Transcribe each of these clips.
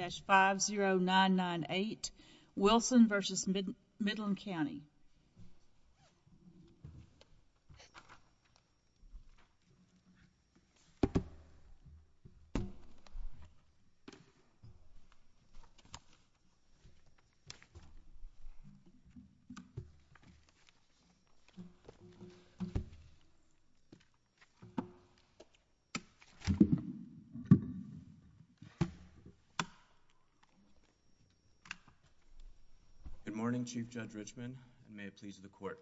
That's 50998 Wilson vs. Midland County. Good morning, Chief Judge Richmond. May it please the court.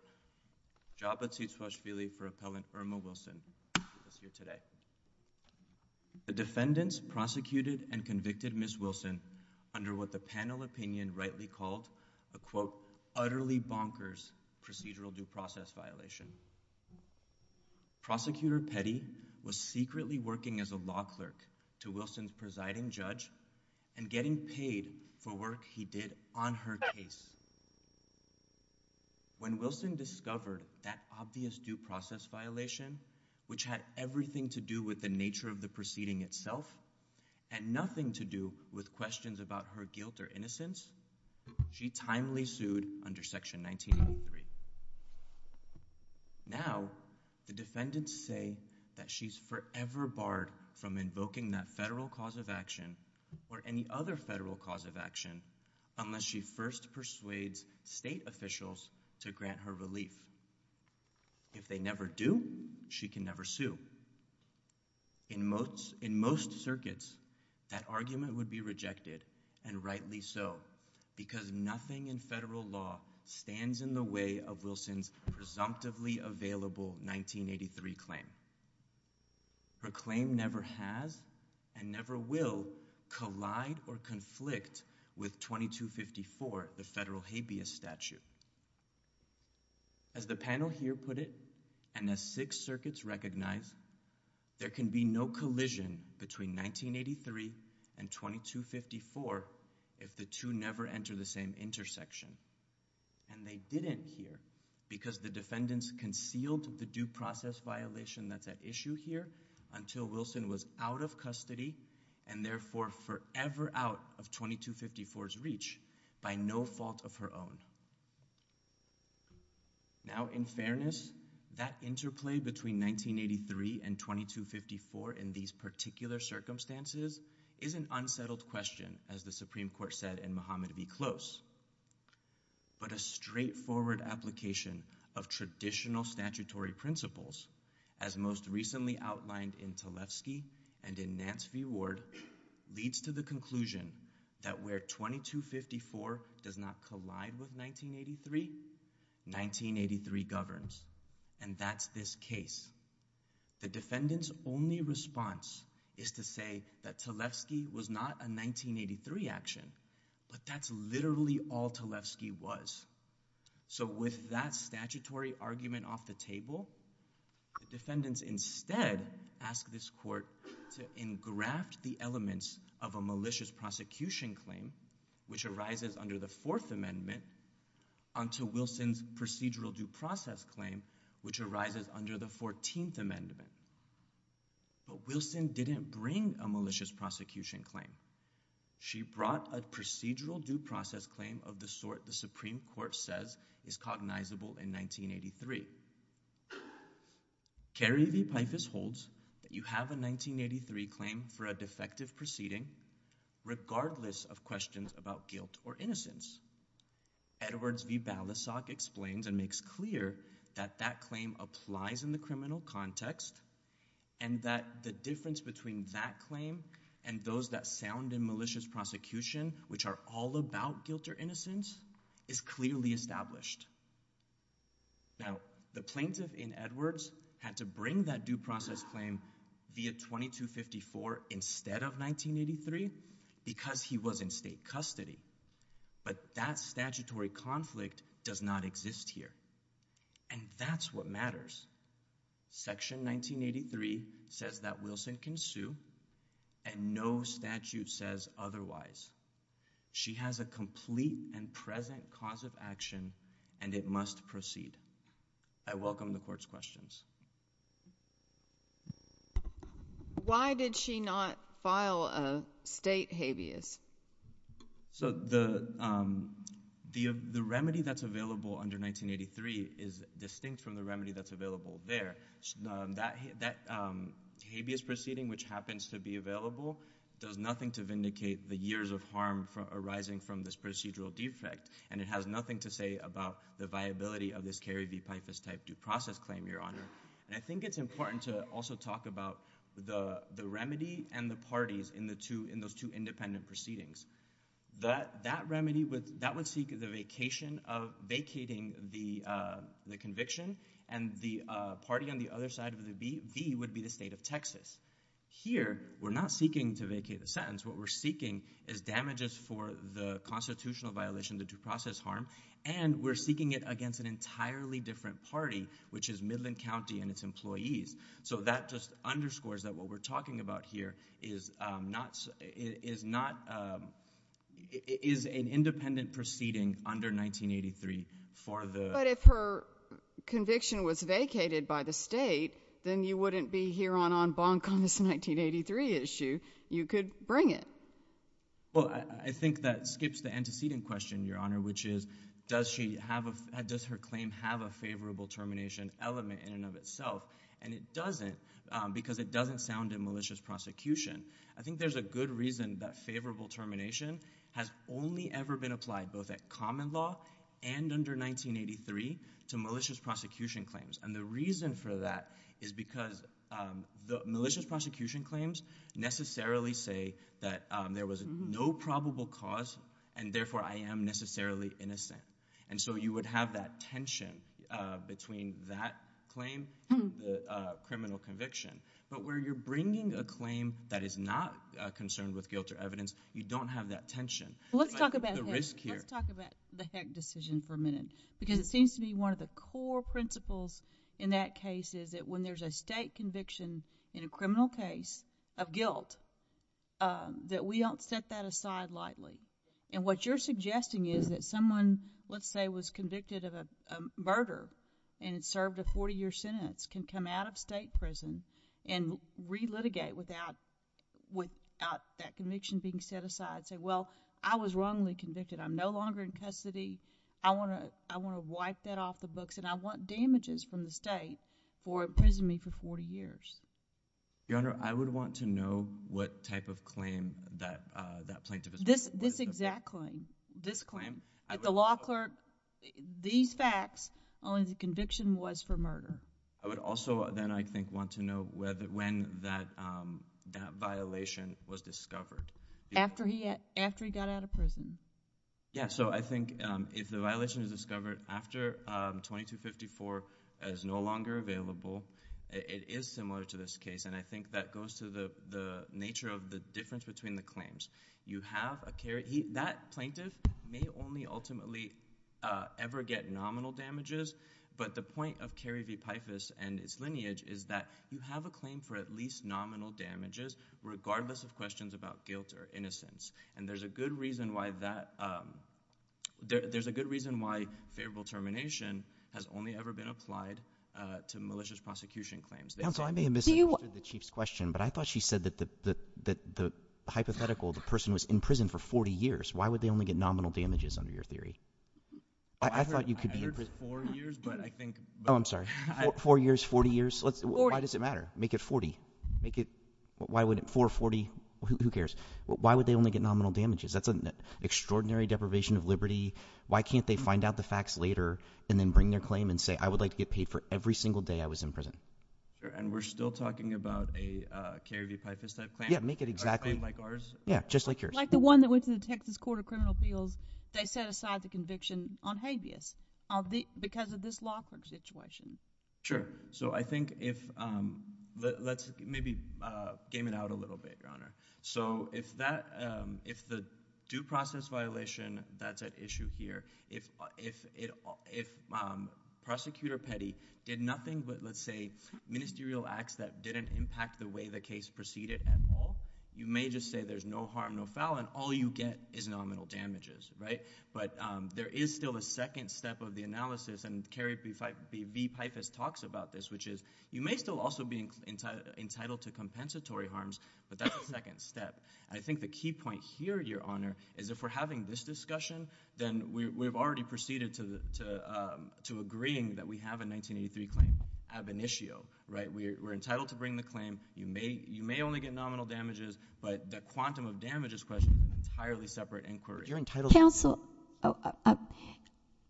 Jabba T. Swashbilly for Appellant Irma Wilson is here today. The defendants prosecuted and convicted Ms. Wilson under what the panel opinion rightly called a quote, utterly bonkers procedural due process violation. Prosecutor Petty was secretly working as a law clerk to Wilson's presiding judge and getting paid for work he did on her case. When Wilson discovered that obvious due process violation, which had everything to do with the nature of the proceeding itself and nothing to do with questions about her guilt or innocence, she timely sued under Section 1983. Now, the defendants say that she's forever barred from invoking that federal cause of action or any other federal cause of action unless she first persuades state officials to grant her relief. If they never do, she can never sue. In most circuits, that argument would be rejected, and rightly so, because nothing in federal law stands in the way of Wilson's presumptively available 1983 claim. Her claim never has and never will collide or conflict with 2254, the federal habeas statute. As the panel here put it, and as six circuits recognize, there can be no collision between 1983 and 2254 if the two never enter the same intersection. And they didn't here because the defendants concealed the due process violation that's at issue here Now, in fairness, that interplay between 1983 and 2254 in these particular circumstances is an unsettled question, as the Supreme Court said in Muhammad v. Close. But a straightforward application of traditional statutory principles, as most recently outlined in Tlefsky and in Nance v. Ward, leads to the conclusion that where 2254 does not collide with 1983, 1983 governs, and that's this case. The defendant's only response is to say that Tlefsky was not a 1983 action, but that's literally all Tlefsky was. So with that statutory argument off the table, the defendants instead ask this court to engraft the elements of a malicious prosecution claim, which arises under the Fourth Amendment, onto Wilson's procedural due process claim, which arises under the Fourteenth Amendment. But Wilson didn't bring a malicious prosecution claim. She brought a procedural due process claim of the sort the Supreme Court says is cognizable in 1983. Gary v. Pipus holds that you have a 1983 claim for a defective proceeding, regardless of questions about guilt or innocence. Edwards v. Balasag explains and makes clear that that claim applies in the criminal context, and that the difference between that claim and those that found in malicious prosecution, which are all about guilt or innocence, is clearly established. Now, the plaintiff in Edwards had to bring that due process claim via 2254 instead of 1983 because he was in state custody. But that statutory conflict does not exist here. And that's what matters. Section 1983 says that Wilson can sue, and no statute says otherwise. She has a complete and present cause of action, and it must proceed. I welcome the court's questions. Why did she not file a state habeas? So the remedy that's available under 1983 is distinct from the remedy that's available there. That habeas proceeding, which happens to be available, does nothing to vindicate the years of harm arising from this procedural defect, and it has nothing to say about the viability of this Gary v. Pipus type due process claim, Your Honor. And I think it's important to also talk about the remedy and the parties in those two independent proceedings. That remedy would seek the vacation of vacating the conviction, and the party on the other side of the V would be the state of Texas. Here, we're not seeking to vacate the sentence. What we're seeking is damages for the constitutional violation, the due process harm, and we're seeking it against an entirely different party, which is Midland County and its employees. So that just underscores that what we're talking about here is an independent proceeding under 1983 for the… But if her conviction was vacated by the state, then you wouldn't be here on En banc on this 1983 issue. You could bring it. Well, I think that skips the antecedent question, Your Honor, which is does her claim have a favorable termination element in and of itself, and it doesn't because it doesn't sound in malicious prosecution. I think there's a good reason that favorable termination has only ever been applied both at common law and under 1983 to malicious prosecution claims. And the reason for that is because the malicious prosecution claims necessarily say that there was no probable cause, and therefore I am necessarily innocent. And so you would have that tension between that claim and the criminal conviction. But where you're bringing a claim that is not concerned with guilt or evidence, you don't have that tension. Let's talk about the heck decision for a minute because it seems to be one of the core principles in that case is that when there's a state conviction in a criminal case of guilt, that we don't set that aside lightly. And what you're suggesting is that someone, let's say, was convicted of a murder and served a 40-year sentence can come out of state prison and relitigate without that conviction being set aside and say, well, I was wrongly convicted. I'm no longer in custody. I want to wipe that off the books, and I want damages from the state for imprisoning me for 40 years. Your Honor, I would want to know what type of claim that plaintiff is making. This exact claim. This claim. At the law court, these facts, only the conviction was for murder. I would also then, I think, want to know when that violation was discovered. After he got out of prison. Yeah, so I think if the violation is discovered after 2254 is no longer available, it is similar to this case, and I think that goes to the nature of the difference between the claims. That plaintiff may only ultimately ever get nominal damages, but the point of Kerry v. Peifus and its lineage is that you have a claim for at least nominal damages regardless of questions about guilt or innocence, and there's a good reason why favorable termination has only ever been applied to malicious prosecution claims. Counsel, I may have misinterpreted the Chief's question, but I thought she said that the hypothetical person was in prison for 40 years. Why would they only get nominal damages under your theory? I thought you could be— I heard four years, but I think— Oh, I'm sorry. Four years, 40 years? Why does it matter? Make it 40. Make it 440. Who cares? Why would they only get nominal damages? That's an extraordinary deprivation of liberty. Why can't they find out the facts later and then bring their claim and say I would like to get paid for every single day I was in prison? And we're still talking about a Kerry v. Peifus type claim? Yeah, make it exactly— A claim like ours? Yeah, just like yours. Like the one that went to the Texas Court of Criminal Appeals. They set aside the conviction on habeas because of this law court situation. Sure. So I think if—let's maybe game it out a little bit, Your Honor. So if the due process violation that's at issue here, if Prosecutor Petty did nothing but, let's say, ministerial acts that didn't impact the way the case proceeded at all, you may just say there's no harm, no foul, and all you get is nominal damages, right? But there is still a second step of the analysis, and Kerry v. Peifus talks about this, which is you may still also be entitled to compensatory harms, but that's a second step. I think the key point here, Your Honor, is if we're having this discussion, then we've already proceeded to agreeing that we have a 1983 claim ab initio, right? We're entitled to bring the claim. You may only get nominal damages, but the quantum of damages question is an entirely separate inquiry. Counsel,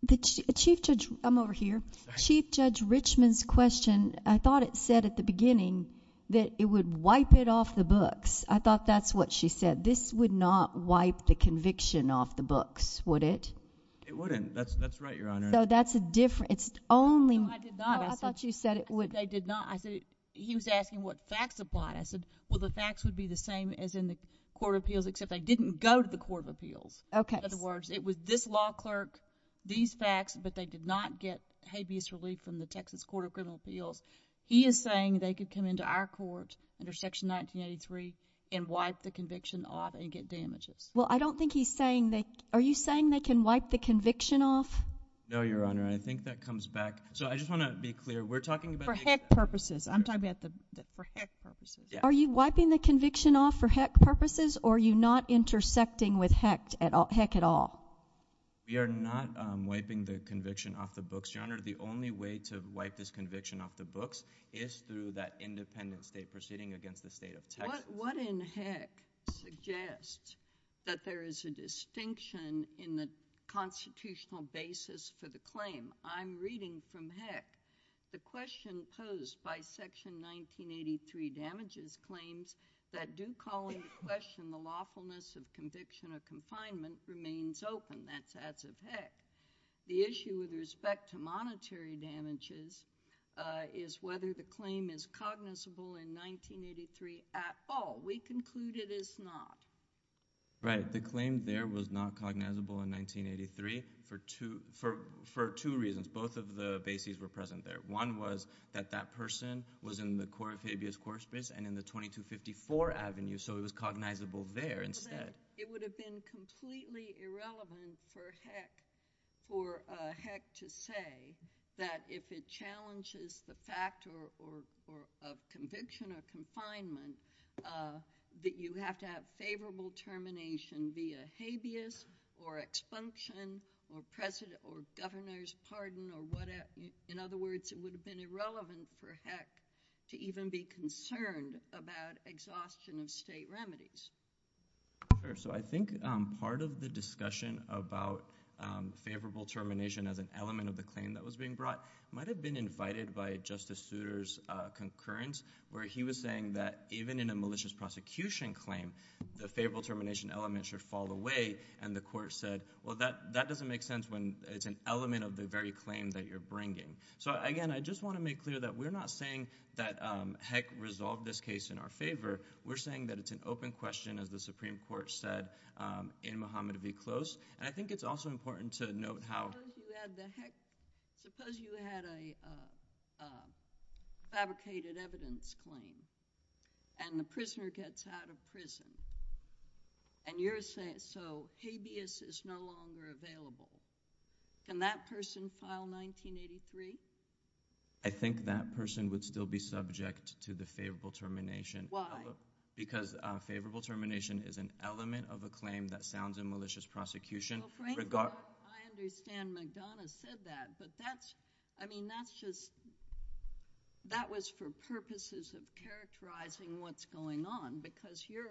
the Chief Judge—I'm over here. Chief Judge Richman's question, I thought it said at the beginning that it would wipe it off the books. I thought that's what she said. She said this would not wipe the conviction off the books, would it? It wouldn't. That's right, Your Honor. So that's a different— No, I did not. I thought you said it would. I did not. He was asking what facts apply. I said, well, the facts would be the same as in the court of appeals, except they didn't go to the court of appeals. Okay. In other words, it was this law clerk, these facts, but they did not get habeas relief from the Texas Court of Criminal Appeals. He is saying they could come into our court under Section 1983 and wipe the conviction off and get damages. Well, I don't think he's saying they— are you saying they can wipe the conviction off? No, Your Honor, and I think that comes back— so I just want to be clear. We're talking about— For heck purposes. I'm talking about for heck purposes. Are you wiping the conviction off for heck purposes, or are you not intersecting with heck at all? We are not wiping the conviction off the books, Your Honor. The only way to wipe this conviction off the books is through that independent state proceeding against the state of Texas. What in heck suggests that there is a distinction in the constitutional basis for the claim? I'm reading from heck. The question posed by Section 1983 damages claims that do call into question the lawfulness of conviction or confinement remains open. That's as of heck. The issue with respect to monetary damages is whether the claim is cognizable in 1983 at all. We conclude it is not. Right. The claim there was not cognizable in 1983 for two reasons. Both of the bases were present there. One was that that person was in the Cora Fabius Courtspace and in the 2254 Avenue, so it was cognizable there instead. It would have been completely irrelevant for heck to say that if it challenges the fact of conviction or confinement that you have to have favorable termination via habeas or expunction or governor's pardon or whatever. In other words, it would have been irrelevant for heck to even be concerned about exhaustion of state remedies. I think part of the discussion about favorable termination as an element of the claim that was being brought might have been invited by Justice Souter's concurrence, where he was saying that even in a malicious prosecution claim, the favorable termination element should fall away, and the court said, well, that doesn't make sense when it's an element of the very claim that you're bringing. Again, I just want to make clear that we're not saying that heck resolve this case in our favor. We're saying that it's an open question, as the Supreme Court said, in Muhammad Abi Close, and I think it's also important to note how... Because you had a fabricated evidence claim and the prisoner gets out of prison, and you're saying so habeas is no longer available, can that person file 1983? I think that person would still be subject to the favorable termination because favorable termination is an element of a claim that sounds in malicious prosecution. I understand McDonough said that, but that was for purposes of characterizing what's going on because your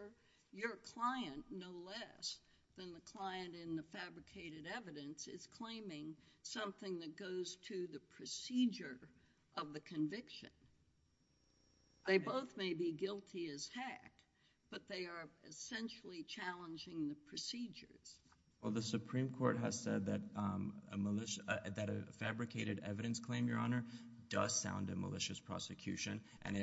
client, no less than the client in the fabricated evidence, is claiming something that goes to the procedure of the conviction. They both may be guilty as heck, but they are essentially challenging the procedure. Well, the Supreme Court has said that a fabricated evidence claim, Your Honor, does sound in malicious prosecution, and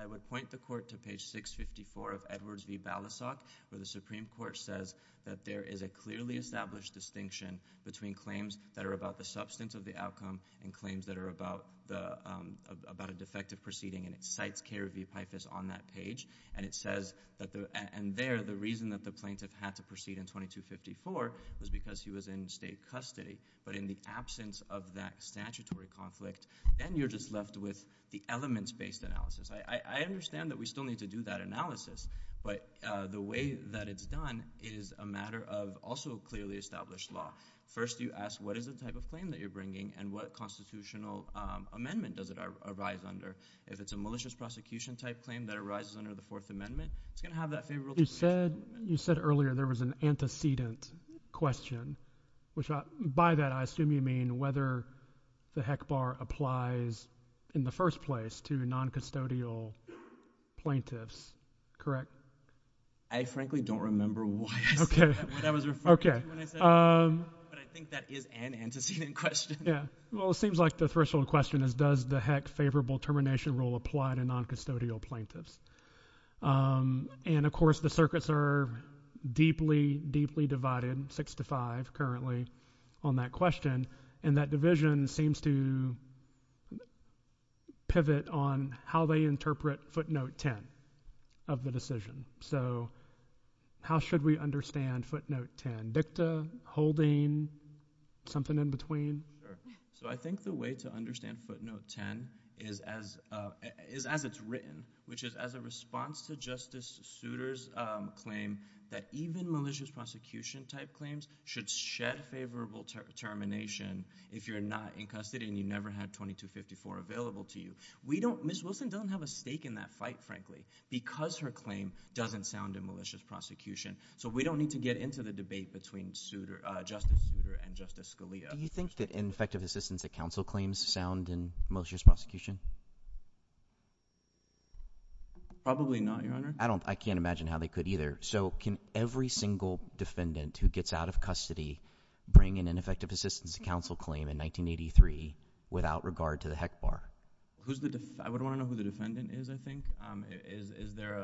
I would point the court to page 654 of Edwards v. Balasoff where the Supreme Court says that there is a clearly established distinction between claims that are about the substance of the outcome and claims that are about a defective proceeding, and it cites Kerry v. Pipus on that page, and there the reason that the plaintiff had to proceed in 2254 was because he was in state custody. But in the absence of that statutory conflict, then you're just left with the elements-based analysis. I understand that we still need to do that analysis, but the way that it's done is a matter of also a clearly established law. First you ask what is the type of claim that you're bringing and what constitutional amendment does it arise under. If it's a malicious prosecution type claim that arises under the Fourth Amendment, it's going to have that favorable statement. You said earlier there was an antecedent question, which by that I assume you mean whether the heck bar applies in the first place to noncustodial plaintiffs, correct? I frankly don't remember why that was referred to when I said that, but I think that is an antecedent question. Well, it seems like the first question is does the heck favorable termination rule apply to noncustodial plaintiffs? And of course the circuits are deeply, deeply divided, six to five currently on that question, and that division seems to pivot on how they interpret footnote 10 of the decision. So how should we understand footnote 10? Victor, Holden, something in between? So I think the way to understand footnote 10 is as it's written, which is as a response to Justice Souter's claim that even malicious prosecution type claims should shed favorable termination if you're not incusted and you never had 2254 available to you. Ms. Wilson doesn't have a stake in that fight, frankly, because her claim doesn't sound in malicious prosecution. So we don't need to get into the debate between Justice Souter and Justice Scalia. Do you think that ineffective assistance to counsel claims sound in malicious prosecution? Probably not, Your Honor. I can't imagine how they could either. So can every single defendant who gets out of custody bring an ineffective assistance to counsel claim in 1983 without regard to the heck bar? I would want to know who the defendant is, I think. Is there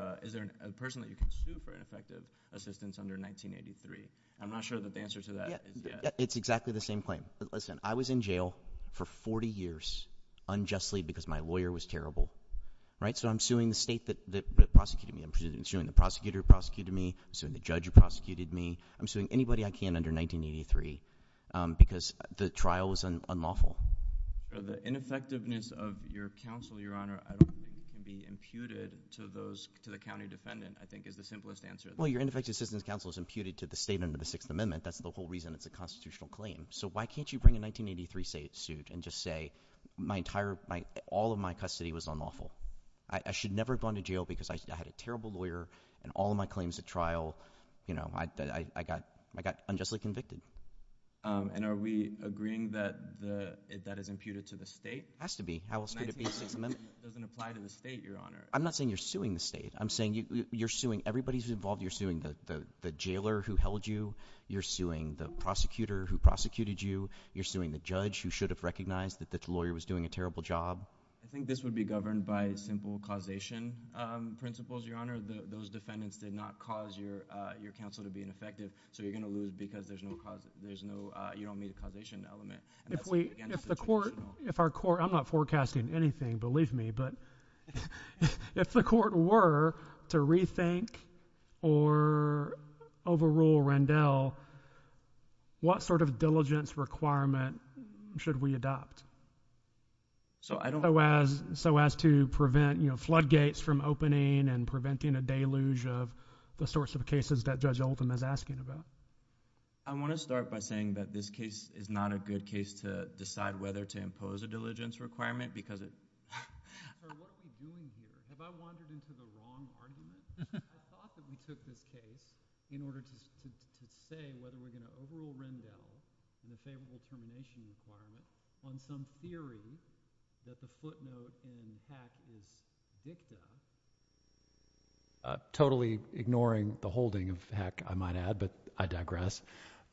a person that you can sue for ineffective assistance under 1983? I'm not sure that the answer to that is yes. It's exactly the same claim. Listen, I was in jail for 40 years unjustly because my lawyer was terrible. So I'm suing the state that prosecuted me. I'm suing the prosecutor who prosecuted me. I'm suing the judge who prosecuted me. I'm suing anybody I can under 1983 because the trial was unlawful. The ineffectiveness of your counsel, Your Honor, can be imputed to the county defendant, I think, is the simplest answer. Well, your ineffective assistance to counsel is imputed to the state under the Sixth Amendment. That's the whole reason it's a constitutional claim. So why can't you bring a 1983 state suit and just say all of my custody was unlawful? I should never have gone to jail because I had a terrible lawyer, and all of my claims at trial, I got unjustly convicted. And are we agreeing that that is imputed to the state? It has to be. It doesn't apply to the state, Your Honor. I'm not saying you're suing the state. I'm saying you're suing everybody who's involved. You're suing the jailer who held you. You're suing the prosecutor who prosecuted you. You're suing the judge who should have recognized that the lawyer was doing a terrible job. I think this would be governed by simple causation principles, Your Honor. Those defendants did not cause your counsel to be ineffective, so you're going to lose because you don't meet a causation element. If the court were to rethink or overrule Rendell, what sort of diligence requirement should we adopt so as to prevent floodgates from opening and preventing a deluge of the sorts of cases that Judge Alton is asking about? I want to start by saying that this case is not a good case to decide whether to impose a diligence requirement. What are we doing here? Have I wandered into the wrong argument? I thought that we took this case in order to say whether we're going to overrule Rendell in the favorable termination requirement on some theory that the footnote in the HAC is victim. Totally ignoring the holding of HAC, I might add, but I digress.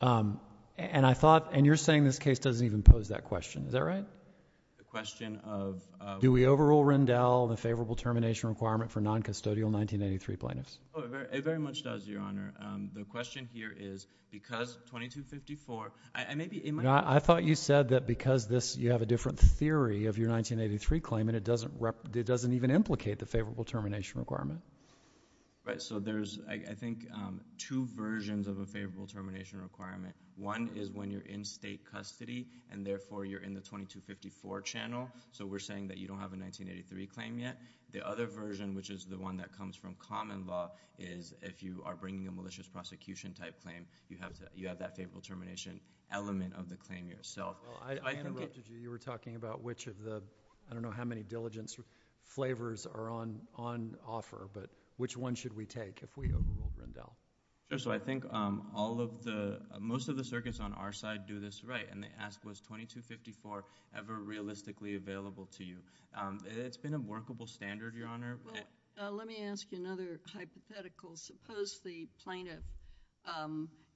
And I thought, and you're saying this case doesn't even pose that question. Is that right? The question of- Do we overrule Rendell in the favorable termination requirement for noncustodial 1983 plaintiffs? It very much does, Your Honor. The question here is, because 2254- I thought you said that because you have a different theory of your 1983 claim and it doesn't even implicate the favorable termination requirement. Right. So there's, I think, two versions of a favorable termination requirement. One is when you're in state custody and, therefore, you're in the 2254 channel. So we're saying that you don't have a 1983 claim yet. The other version, which is the one that comes from common law, is if you are bringing a malicious prosecution type claim, you have that favorable termination element of the claim yourself. Well, I didn't get to you. You were talking about which of the- I don't know how many diligence flavors are on offer, but which one should we take if we overrule Rendell? Sure. So I think all of the- most of the circuits on our side do this right, and they ask, was 2254 ever realistically available to you? It's been a workable standard, Your Honor. Let me ask you another hypothetical. Suppose the plaintiff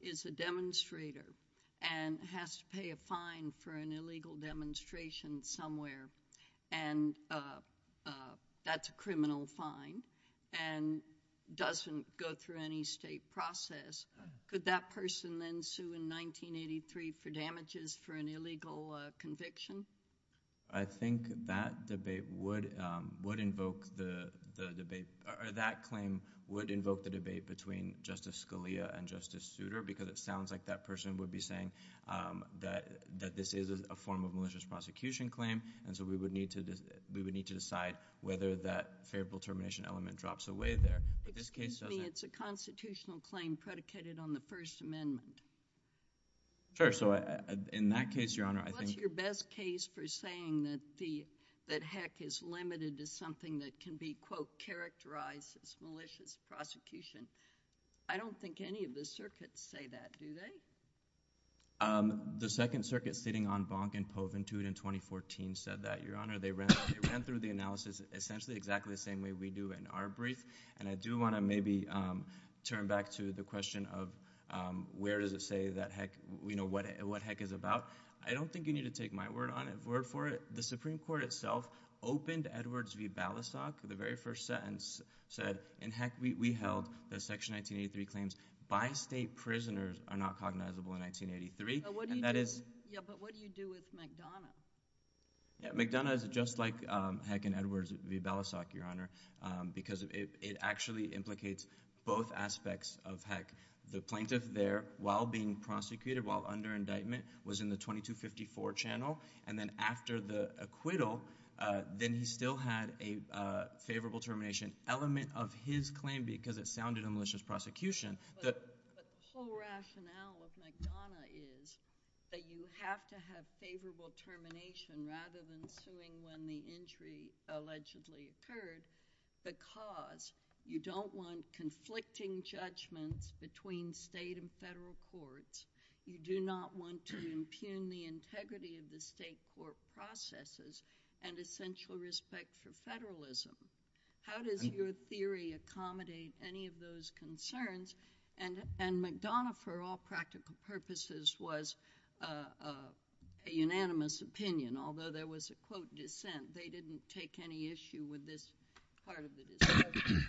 is a demonstrator and has to pay a fine for an illegal demonstration somewhere, and that's a criminal fine and doesn't go through any state process. Could that person then sue in 1983 for damages for an illegal conviction? I think that claim would invoke the debate between Justice Scalia and Justice Souter because it sounds like that person would be saying that this is a form of malicious prosecution claim, and so we would need to decide whether that favorable termination element drops away there. It's a constitutional claim predicated on the First Amendment. Sure. So in that case, Your Honor, I think- I'm pleased for saying that heck is limited to something that can be, quote, characterized as malicious prosecution. I don't think any of the circuits say that, do they? The Second Circuit sitting on Bonk and Poventude in 2014 said that. Your Honor, they ran through the analysis essentially exactly the same way we do in our brief, and I do want to maybe turn back to the question of where does it say that heck-we know what heck is about. I don't think you need to take my word for it. The Supreme Court itself opened Edwards v. Balasoff. The very first sentence said, and heck, we held that Section 1983 claims, by state prisoners are not cognizable in 1983. But what do you do with McDonough? McDonough is just like heck in Edwards v. Balasoff, Your Honor, because it actually implicates both aspects of heck. The plaintiff there, while being prosecuted, while under indictment, was in the 2254 channel, and then after the acquittal, then he still had a favorable termination element of his claim because it sounded a malicious prosecution. But the full rationale of McDonough is that you have to have favorable termination rather than suing when the injury allegedly occurred because you don't want conflicting judgments between state and federal courts. You do not want to impugn the integrity of the state court processes and essential respect for federalism. How does your theory accommodate any of those concerns? And McDonough, for all practical purposes, was a unanimous opinion, although there was a, quote, dissent. They didn't take any issue with this part of the discussion.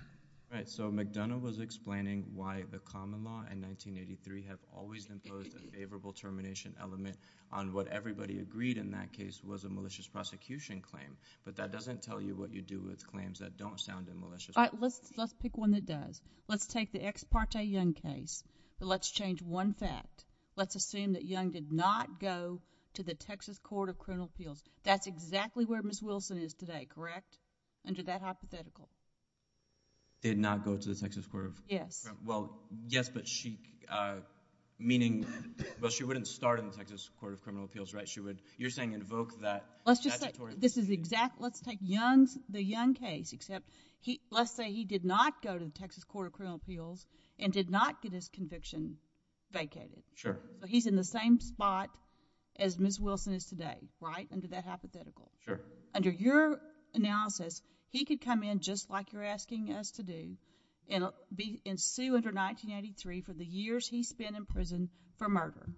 Right, so McDonough was explaining why the common law in 1983 had always imposed a favorable termination element on what everybody agreed in that case was a malicious prosecution claim, but that doesn't tell you what you do with claims that don't sound a malicious one. But let's pick one that does. Let's take the ex parte Young case, but let's change one fact. Let's assume that Young did not go to the Texas Court of Criminal Appeals. That's exactly where Ms. Wilson is today, correct? Under that hypothetical. Did not go to the Texas Court of... Yes. Well, yes, but she, meaning, but she wouldn't start in the Texas Court of Criminal Appeals, right? You're saying invoke that statutory... Let's just say, this is exactly, let's take Young's, the Young case, except let's say he did not go to the Texas Court of Criminal Appeals and did not get his conviction vacated. Sure. So he's in the same spot as Ms. Wilson is today, right? Under that hypothetical. Sure. So under your analysis, he could come in just like you're asking us to do and sue under 1983 for the years he spent in prison for murder.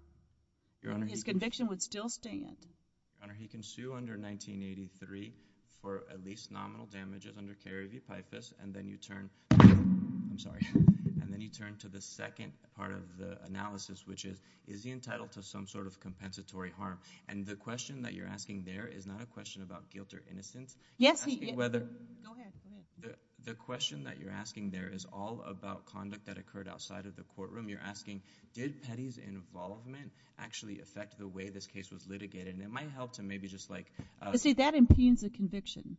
His conviction would still stand. Your Honor, he can sue under 1983 for at least nominal damages under care of epictus, and then you turn... I'm sorry. And then you turn to the second part of the analysis, which is, is he entitled to some sort of compensatory harm? And the question that you're asking there is not a question about guilt or innocence. Yes, he is. Go ahead. The question that you're asking there is all about conduct that occurred outside of the courtroom. You're asking, did Petty's involvement actually affect the way this case was litigated? And it might help to maybe just like... You see, that impugns the conviction.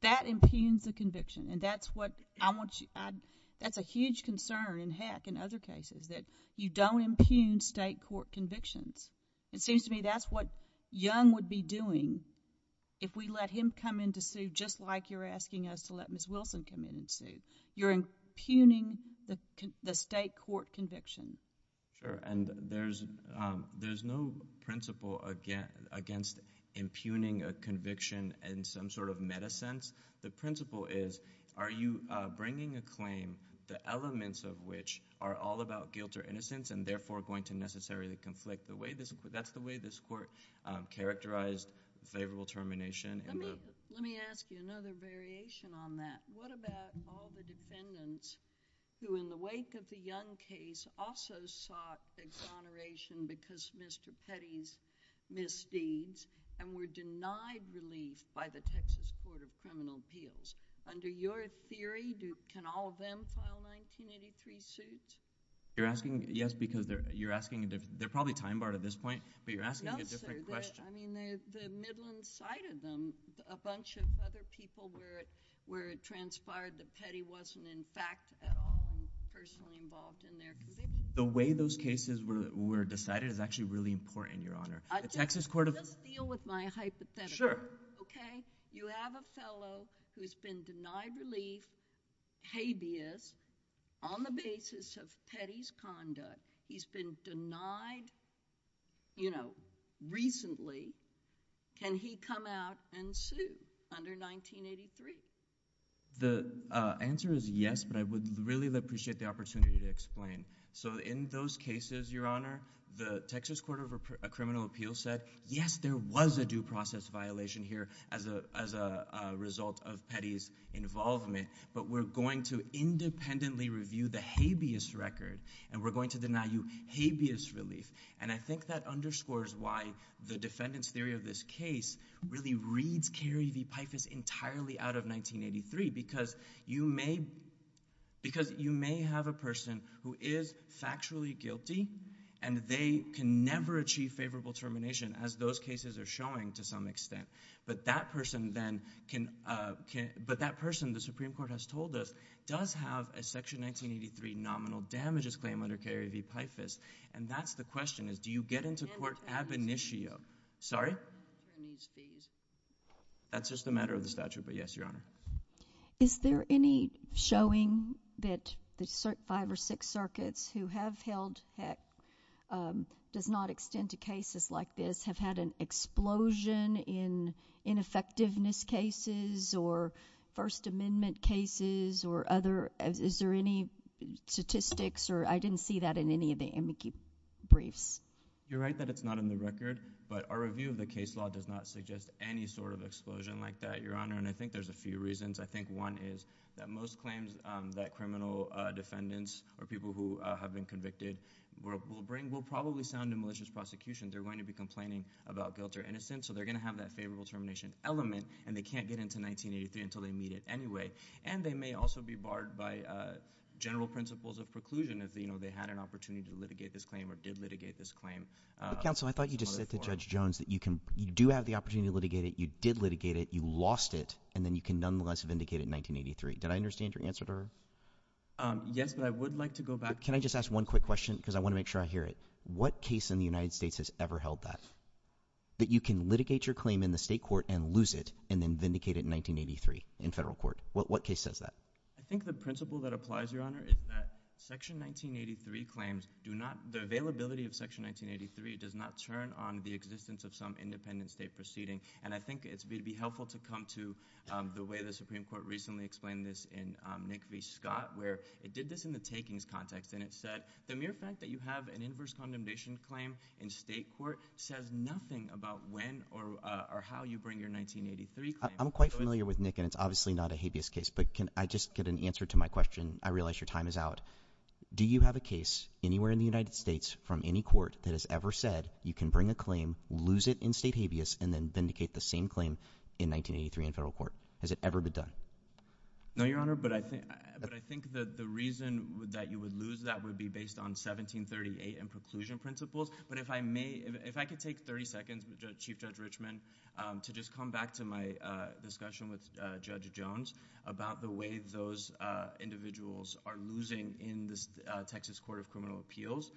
That impugns the conviction. And that's what I want you... That's a huge concern, heck, in other cases, that you don't impugn state court convictions. It seems to me that's what Young would be doing if we let him come into suit just like you're asking us to let Ms. Wilson come into suit. You're impugning the state court conviction. Sure, and there's no principle against impugning a conviction in some sort of metasense. The principle is, are you bringing a claim, the elements of which are all about guilt or innocence and therefore going to necessarily conflict the way... That's the way this court characterized favorable termination. Let me ask you another variation on that. What about all the defendants who in the wake of the Young case also sought exoneration because Mr. Petty's misdeeds and were denied relief by the Texas Court of Criminal Appeals? Under your theory, can all of them file 1983 suits? You're asking, yes, because you're asking... They're probably time-barred at this point, but you're asking a different question. No, sir, I mean, the Midland side of them, a bunch of other people were transpired that Petty wasn't in fact at all personally involved in their convictions. The way those cases were decided is actually really important, Your Honor. Let me deal with my hypothetical. Sure. Okay? You have a fellow who's been denied relief, habeas, on the basis of Petty's conduct. He's been denied, you know, recently. Can he come out and sue under 1983? The answer is yes, but I would really appreciate the opportunity to explain. So in those cases, Your Honor, the Texas Court of Criminal Appeals said, yes, there was a due process violation here as a result of Petty's involvement, but we're going to independently review the habeas record and we're going to deny you habeas relief. And I think that underscores why the defendant's theory of this case really reads Carey v. Pifus entirely out of 1983 because you may have a person who is factually guilty and they can never achieve favorable termination as those cases are showing to some extent. But that person, then, can... But that person, the Supreme Court has told us, does have a Section 1983 nominal damages claim under Carey v. Pifus, and that's the question is, do you get into court ab initio? Sorry? That's just a matter of the statute, but yes, Your Honor. Is there any showing that the five or six circuits who have held pets does not extend to cases like this, have had an explosion in ineffectiveness cases or First Amendment cases or other... Is there any statistics or... I didn't see that in any of the amici briefs. You're right that it's not in the record, but our review of the case law does not suggest any sort of explosion like that, Your Honor, and I think there's a few reasons. I think one is that most claims that criminal defendants or people who have been convicted will probably sound in malicious prosecution. They're going to be complaining about guilt or innocence, so they're going to have that favorable termination element, and they can't get into 1983 until they meet it anyway. And they may also be barred by general principles of preclusion if they had an opportunity to litigate this claim or did litigate this claim. Counsel, I thought you just said to Judge Jones that you do have the opportunity to litigate it, you did litigate it, you lost it, and then you can nonetheless vindicate it in 1983. Did I understand your answer to her? Yes, but I would like to go back... Can I just ask one quick question because I want to make sure I hear it? What case in the United States has ever held that, that you can litigate your claim in the state court and lose it and then vindicate it in 1983 in federal court? What case says that? I think the principle that applies, Your Honor, is that Section 1983 claims do not... The availability of Section 1983 does not turn on the existence of some independent state proceeding, and I think it would be helpful to come to the way the Supreme Court recently explained this in Nick v. Scott, where it did this in the takings context, and it said the mere fact that you have an inverse condemnation claim in state court says nothing about when or how you bring your 1983 claim... I'm quite familiar with Nick, and it's obviously not a habeas case, but can I just get an answer to my question? I realize your time is out. Do you have a case anywhere in the United States from any court that has ever said you can bring a claim, lose it in state habeas, and then vindicate the same claim in 1983 in federal court? Has it ever been done? No, Your Honor, but I think that the reason that you would lose that would be based on 1738 and preclusion principles, but if I may... If I could take 30 seconds, Chief Judge Richman, to just come back to my discussion with Judge Jones about the way those individuals are losing in the Texas Court of Criminal Appeals,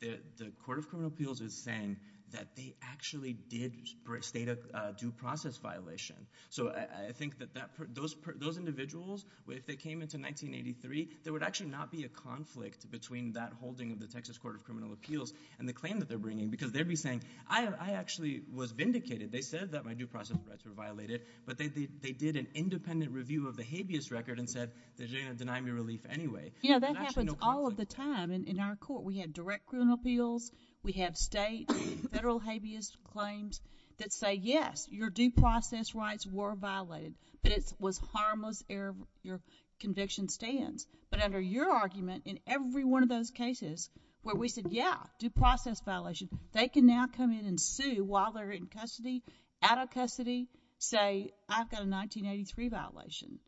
the Court of Criminal Appeals is saying that they actually did state a due process violation, so I think that those individuals, if they came into 1983, there would actually not be a conflict between that holding of the Texas Court of Criminal Appeals and the claim that they're bringing, because they'd be saying, I actually was vindicated. They said that my due process rights were violated, but they did an independent review of the habeas record and said that they denied me relief anyway. Yeah, that happens all of the time in our court. We have direct criminal appeals. We have state, federal habeas claims that say, yes, your due process rights were violated, but it was harmless ere your conviction stands, but under your argument, in every one of those cases where we said, yeah, due process violations, they can now come in and sue while they're in custody, out of custody, say, I've got a 1983 violation.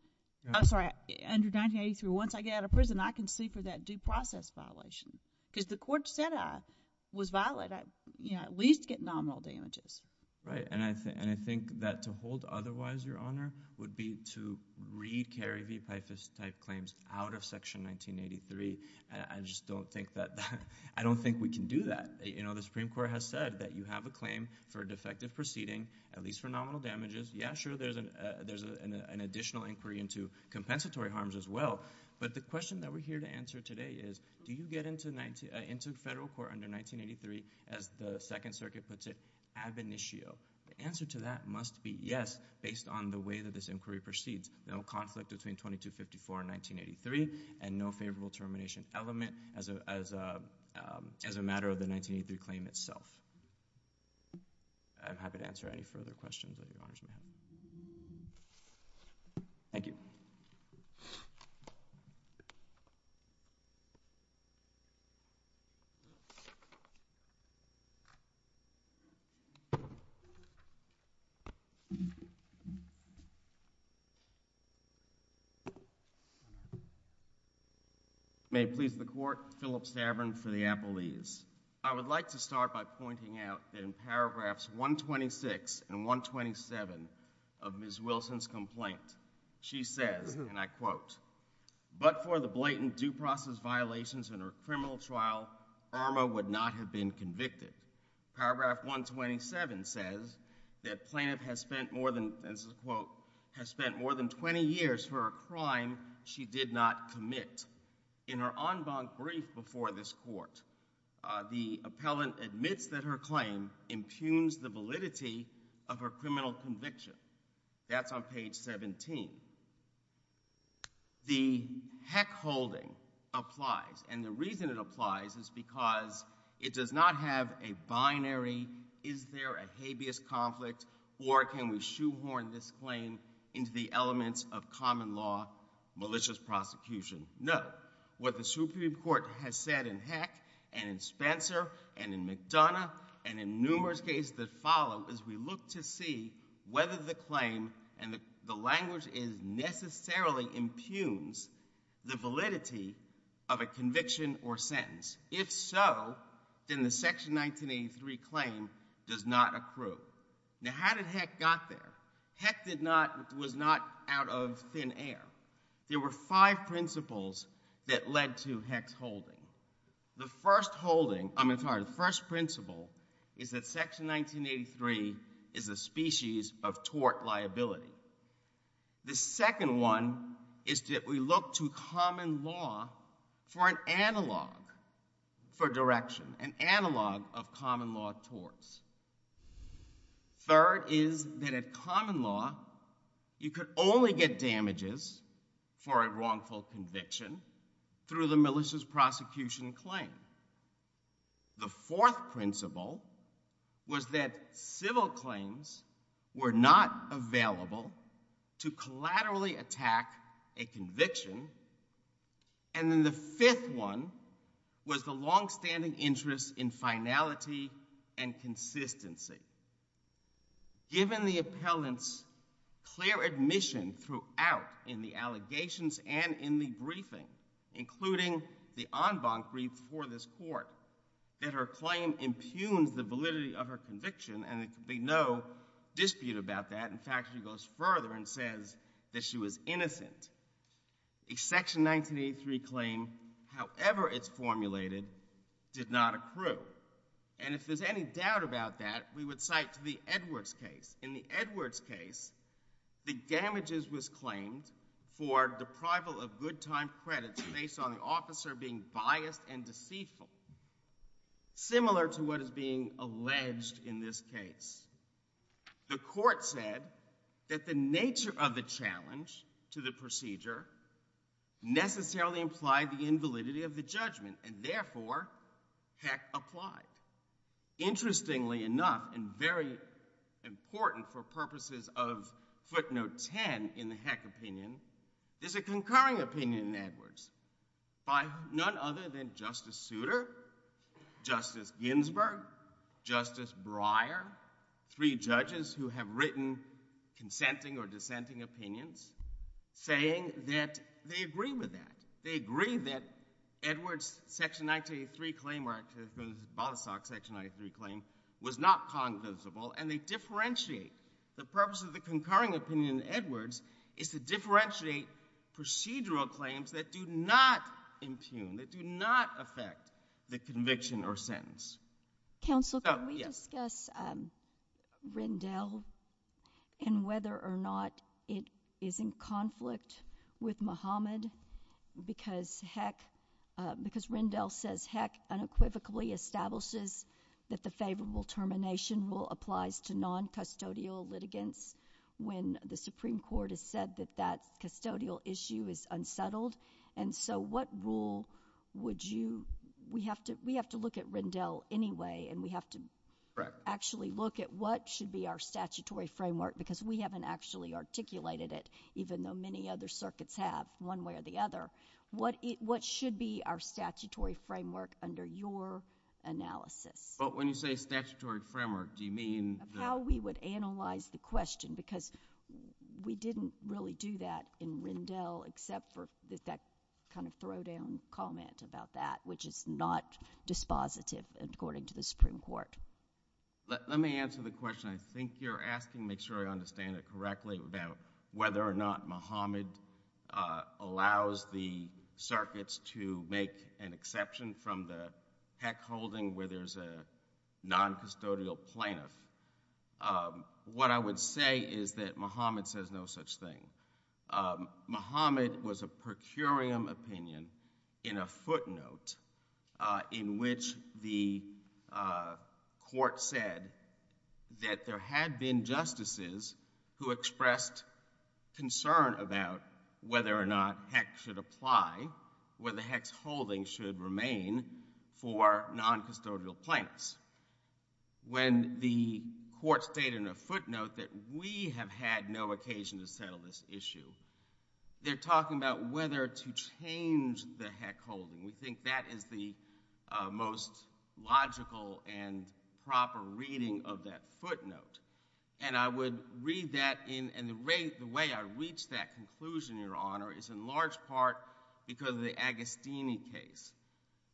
I'm sorry, under 1983, once I get out of prison, I can sue for that due process violation, because the court said I was violated. I at least get nominal damages. Right, and I think that to hold otherwise, your honor, would be to read Carrie V. Peifus-type claims out of Section 1983. I just don't think that, I don't think we can do that. You know, the Supreme Court has said that you have a claim for a defective proceeding, at least for nominal damages. Yeah, sure, there's an additional inquiry into compensatory harms as well, but the question that we're here to answer today is, do you get into federal court under 1983, as the Second Circuit puts it, ab initio? The answer to that must be yes, based on the way that this inquiry proceeds. No conflict between 2254 and 1983, and no favorable termination element, as a matter of the 1983 claim itself. I'm happy to answer any further questions, if your honors may have them. Thank you. May it please the court, Philip Stavron for the Apple News. I would like to start by pointing out in paragraphs 126 and 127 of Ms. Wilson's complaint. She said, and I quote, but for the blatant due process violations in her criminal trial, Irma would not have been convicted. Paragraph 127 says, that plaintiff has spent more than, this is a quote, has spent more than 20 years for a crime she did not commit. In her en banc brief before this court, the appellant admits that her claim impugns the validity of her criminal conviction. That's on page 17. The heck-holding applies, and the reason it applies is because it does not have a binary, is there a habeas conflict, or can we shoehorn this claim into the elements of common law malicious prosecution? No. What the Supreme Court has said in Heck, and in Spencer, and in McDonough, and in numerous cases that follow, is we look to see whether the claim, and the language is necessarily impugns the validity of a conviction or sentence. If so, then the Section 1983 claim does not accrue. Now how did Heck got there? Heck did not, was not out of thin air. There were five principles that led to Heck's holding. The first holding, I'm sorry, the first principle is that Section 1983 is a species of tort liability. The second one is that we look to common law for an analog for direction, an analog of common law courts. Third is that in common law, you can only get damages for a wrongful conviction through the malicious prosecution claim. The fourth principle was that civil claims were not available to collaterally attack a conviction, and then the fifth one was the long-standing interest in finality and consistency. Given the appellant's clear admission throughout in the allegations and in the briefing, including the en banc brief for this court, that her claim impugns the validity of her conviction, and there can be no dispute about that. In fact, she goes further and says that she was innocent. A Section 1983 claim, however it's formulated, did not accrue. And if there's any doubt about that, we would cite the Edwards case. In the Edwards case, the damages was claimed for deprival of good time credits based on an officer being biased and deceitful, similar to what is being alleged in this case. The court said that the nature of the challenge to the procedure necessarily implied the invalidity of the judgment, and therefore, Heck applied. Interestingly enough, and very important for purposes of footnote 10 in the Heck opinion, there's a concurring opinion in Edwards by none other than Justice Souter, Justice Ginsburg, Justice Breyer, three judges who have written consenting or dissenting opinions, saying that they agree with that. They agree that Edwards' Section 1983 claim versus Bostock's Section 1983 claim was not cognizable, and they differentiate. The purpose of the concurring opinion in Edwards is to differentiate procedural claims that do not impugn, that do not affect the conviction or sentence. Counsel, can we discuss Rendell and whether or not it is in conflict with Muhammad? Because Heck, because Rendell says Heck unequivocally establishes that the favorable termination rule applies to noncustodial litigants when the Supreme Court has said that that custodial issue is unsettled. And so what rule would you, we have to look at Rendell anyway, and we have to actually look at what should be our statutory framework, because we haven't actually articulated it, even though many other circuits have, one way or the other. What should be our statutory framework under your analysis? But when you say statutory framework, do you mean... How we would analyze the question, because we didn't really do that in Rendell, except for that kind of throw-down comment about that, which is not dispositive, according to the Supreme Court. Let me answer the question. I think you're asking, make sure I understand it correctly, about whether or not Muhammad allows the circuits to make an exception from the Heck holding where there's a noncustodial plaintiff. What I would say is that Muhammad says no such thing. Muhammad was a procurium opinion in a footnote in which the court said that there had been justices who expressed concern about whether or not Heck should apply, whether Heck's holding should remain for noncustodial plaintiffs. When the court stated in a footnote that we have had no occasion to sell this issue, they're talking about whether to change the Heck holding. We think that is the most logical and proper reading of that footnote. And I would read that, and the way I reached that conclusion, Your Honor, is in large part because of the Agostini case.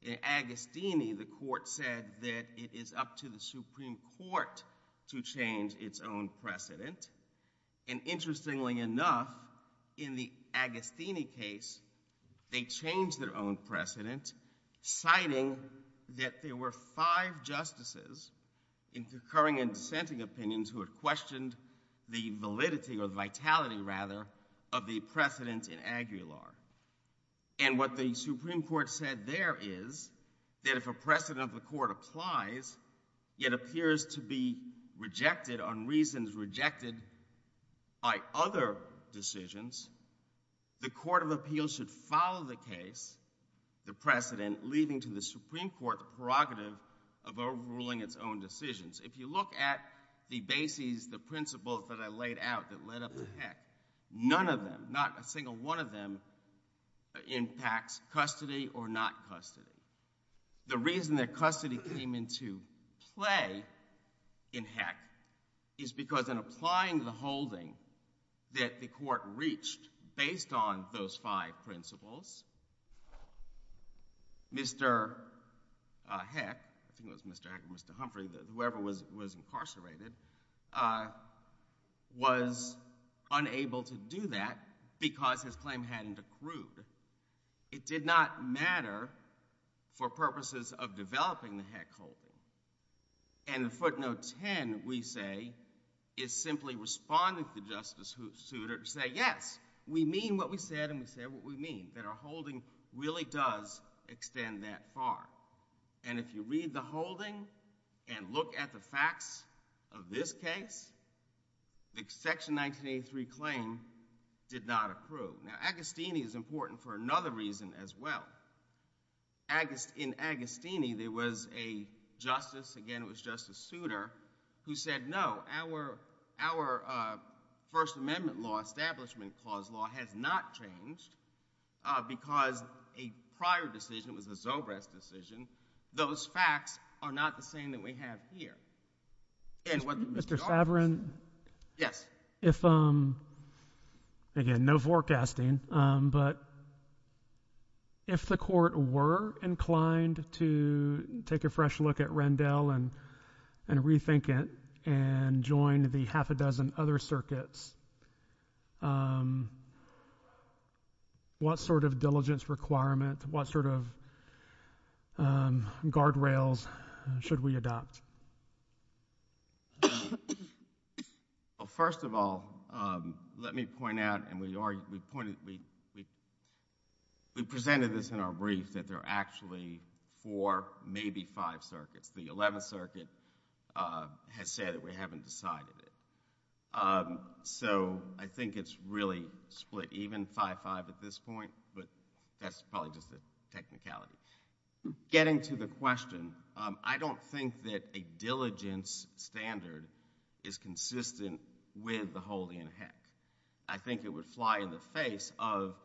In Agostini, the court said that it is up to the Supreme Court to change its own precedent. And interestingly enough, in the Agostini case, they changed their own precedent, citing that there were five justices in procuring and dissenting opinions who had questioned the validity, or the vitality, rather, of the precedents in agri-law. And what the Supreme Court said there is that if a precedent of the court applies, yet appears to be rejected on reasons rejected by other decisions, the Court of Appeals should follow the case, the precedent, leaving to the Supreme Court the prerogative of overruling its own decisions. If you look at the bases, the principles that I laid out that led up to Heck, none of them, not a single one of them, impacts custody or not custody. The reason that custody came into play in Heck is because in applying the holding that the court reached based on those five principles, Mr. Heck, who was Mr. Heck and Mr. Humphrey, whoever was incarcerated, was unable to do that because his claim hadn't accrued. It did not matter for purposes of developing the Heck holding. And the footnote 10, we say, is simply responding to Justice Souter to say, yes, we mean what we said and we said what we mean, that our holding really does extend that far. And if you read the holding and look at the facts of this case, the Section 1983 claim did not accrue. Now, Agostini is important for another reason as well. In Agostini, there was a justice, again, it was Justice Souter, who said no, our First Amendment law, Establishment Clause law, had not changed because a prior decision was a Zobreth decision. Those facts are not the same that we have here. And what Mr. Favarin, yes, if, again, no forecasting, but if the court were inclined to take a fresh look at Rendell and rethink it and join the half a dozen other circuits, what sort of diligence requirement, what sort of guardrails should we adopt? Well, first of all, let me point out, and we presented this in our brief, that there are actually four, maybe five circuits. The 11th Circuit has said that we haven't decided it. So I think it's really split, even 5-5 at this point, but that's probably just a technicality. Getting to the question, I don't think that a diligence standard is consistent with the holding in heck. I think it would fly in the face of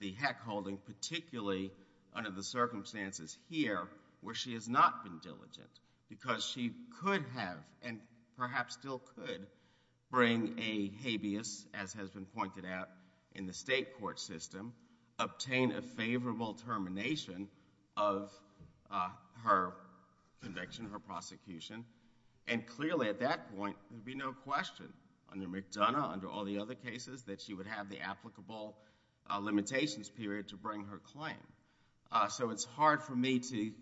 the heck holding, particularly under the circumstances here where she has not been diligent because she could have, and perhaps still could, bring a habeas, as has been pointed out in the state court system, obtain a favorable termination of her conviction, her prosecution. And clearly at that point, there would be no question under McDonough, under all the other cases, that she would have the applicable limitations period to bring her claim. So it's hard for me to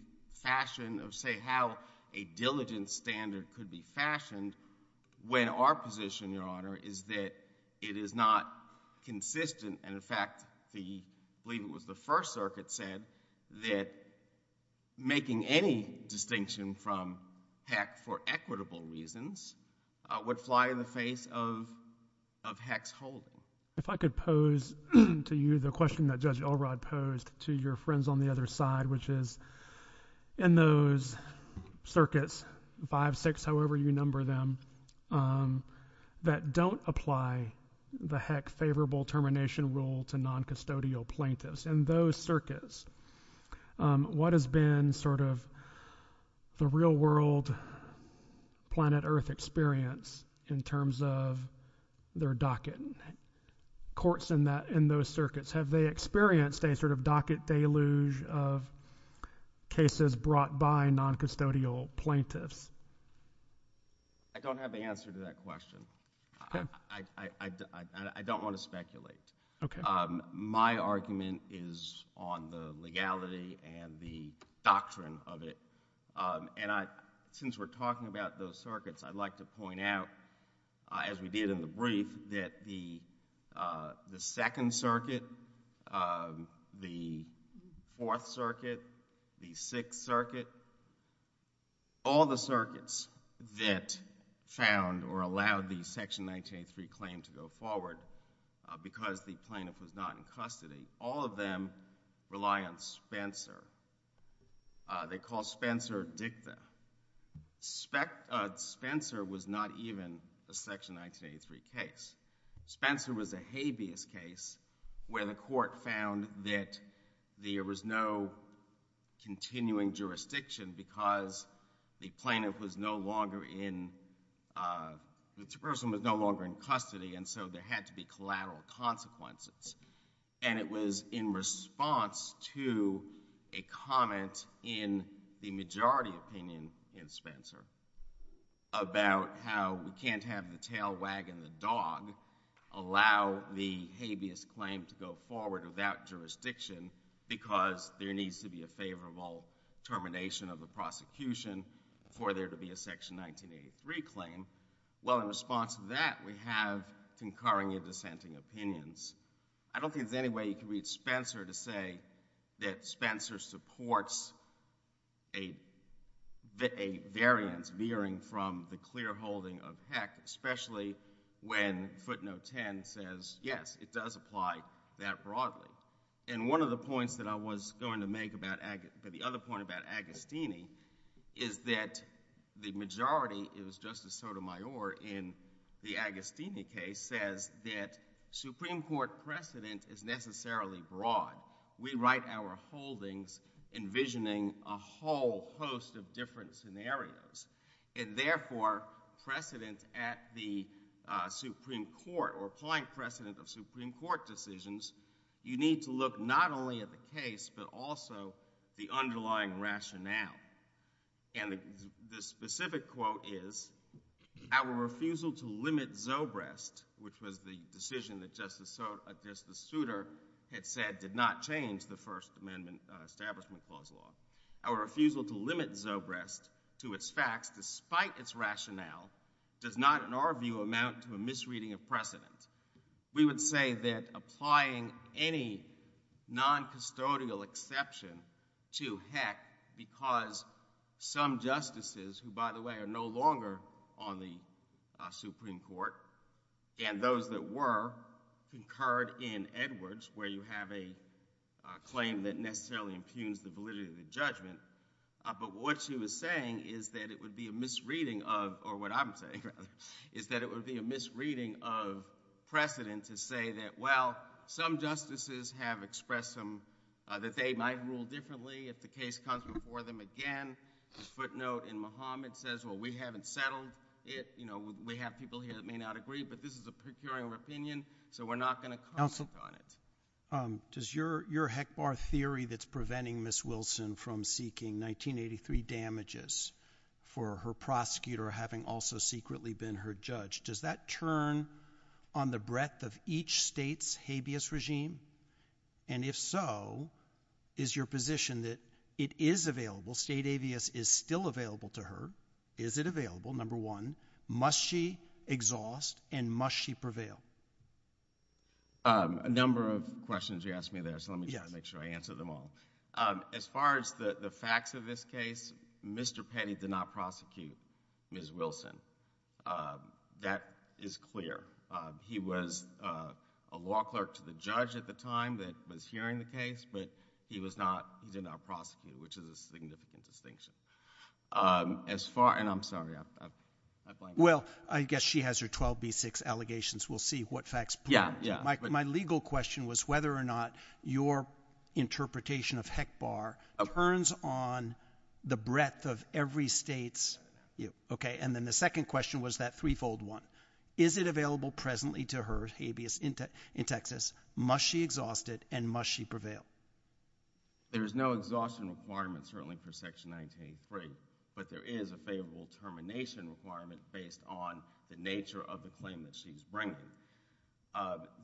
fashion, or say how a diligence standard could be fashioned when our position, Your Honor, is that it is not consistent, and in fact, we believe it was the First Circuit said that making any distinction from heck for equitable reasons would fly in the face of heck's holding. If I could pose to you the question that Judge Elrod posed to your friends on the other side, which is in those circuits, 5, 6, however you number them, that don't apply the heck favorable termination rule to noncustodial plaintiffs. In those circuits, what has been the real world planet Earth experience in terms of their docket courts in those circuits? Have they experienced a docket deluge of cases brought by noncustodial plaintiffs? I don't have the answer to that question. I don't want to speculate. Okay. My argument is on the legality and the doctrine of it, and since we're talking about those circuits, I'd like to point out, as we did in the brief, that the Second Circuit, the Fourth Circuit, the Sixth Circuit, all the circuits that found or allowed the Section 1903 claim to go forward because the plaintiff was not in custody, all of them rely on Spencer. They call Spencer a victim. Spencer was not even a Section 1903 case. Spencer was a habeas case where the court found that there was no continuing jurisdiction because the plaintiff was no longer in, the person was no longer in custody, and so there had to be collateral consequences. And it was in response to a comment in the majority opinion in Spencer about how we can't have the tail wagging the dog allow the habeas claim to go forward without jurisdiction because there needs to be a favorable termination of the prosecution for there to be a Section 1983 claim. Well, in response to that, we have concurring and dissenting opinions. I don't think there's any way you can reach Spencer to say that Spencer supports a variance veering from the clear holding of Peck, especially when footnote 10 says, yes, it does apply that broadly. And one of the points that I was going to make about the other point about Agostini is that the majority, it was Justice Sotomayor in the Agostini case, said that Supreme Court precedent is necessarily broad. We write our holdings envisioning a whole host of different scenarios. And therefore, precedent at the Supreme Court or plain precedent of Supreme Court decisions, you need to look not only at the case but also the underlying rationale. And the specific quote is, our refusal to limit Zobrest, which was the decision that Justice Souter had said did not change the First Amendment Establishment Clause law, our refusal to limit Zobrest to its facts, despite its rationale, does not, in our view, amount to a misreading of precedent. We would say that applying any noncustodial exception to Peck because some justices, who, by the way, are no longer on the Supreme Court, and those that were, concurred in Edwards, where you have a claim that necessarily impugns the validity of the judgment. But what she was saying is that it would be a misreading of, or what I'm saying, rather, is that it would be a misreading of precedent to say that, well, some justices have expressed that they might rule differently if the case comes before them again. The footnote in Muhammad says, well, we haven't settled it. You know, we have people here that may not agree, but this is a peculiar opinion, so we're not going to comment on it. Does your Heckbar theory that's preventing Ms. Wilson from seeking 1983 damages for her prosecutor having also secretly been her judge, does that turn on the breadth of each state's habeas regime? And if so, is your position that it is available, state habeas is still available to her? Is it available, number one? Must she exhaust and must she prevail? A number of questions you asked me there, so let me try to make sure I answer them all. As far as the facts of this case, Mr. Petty did not prosecute Ms. Wilson. That is clear. He was a law clerk to the judge at the time that was hearing the case, but he did not prosecute, which is a significant distinction. And I'm sorry. Well, I guess she has her 12B6 allegations. We'll see what facts prove. My legal question was whether or not your interpretation of Heckbar turns on the breadth of every state's, okay, and then the second question was that threefold one. Is it available presently to her habeas in Texas? Must she exhaust it and must she prevail? There's no exhaustion requirement, certainly, for Section 1983, but there is a favorable termination requirement based on the nature of the claim that she's bringing.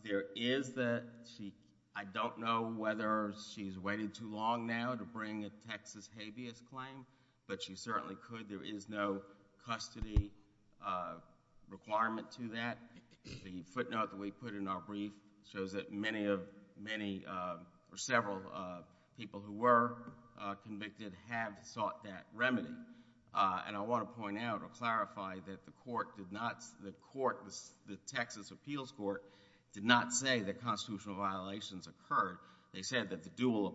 There is that she, I don't know whether she's waiting too long now to bring this Texas habeas claim, but she certainly could. There is no custody requirement to that. The footnote that we put in our brief shows that many of, many or several people who were convicted have sought that remedy. And I want to point out or clarify that the court did not, the court, the Texas Appeals Court, did not say that constitutional violations occurred. They said that the dual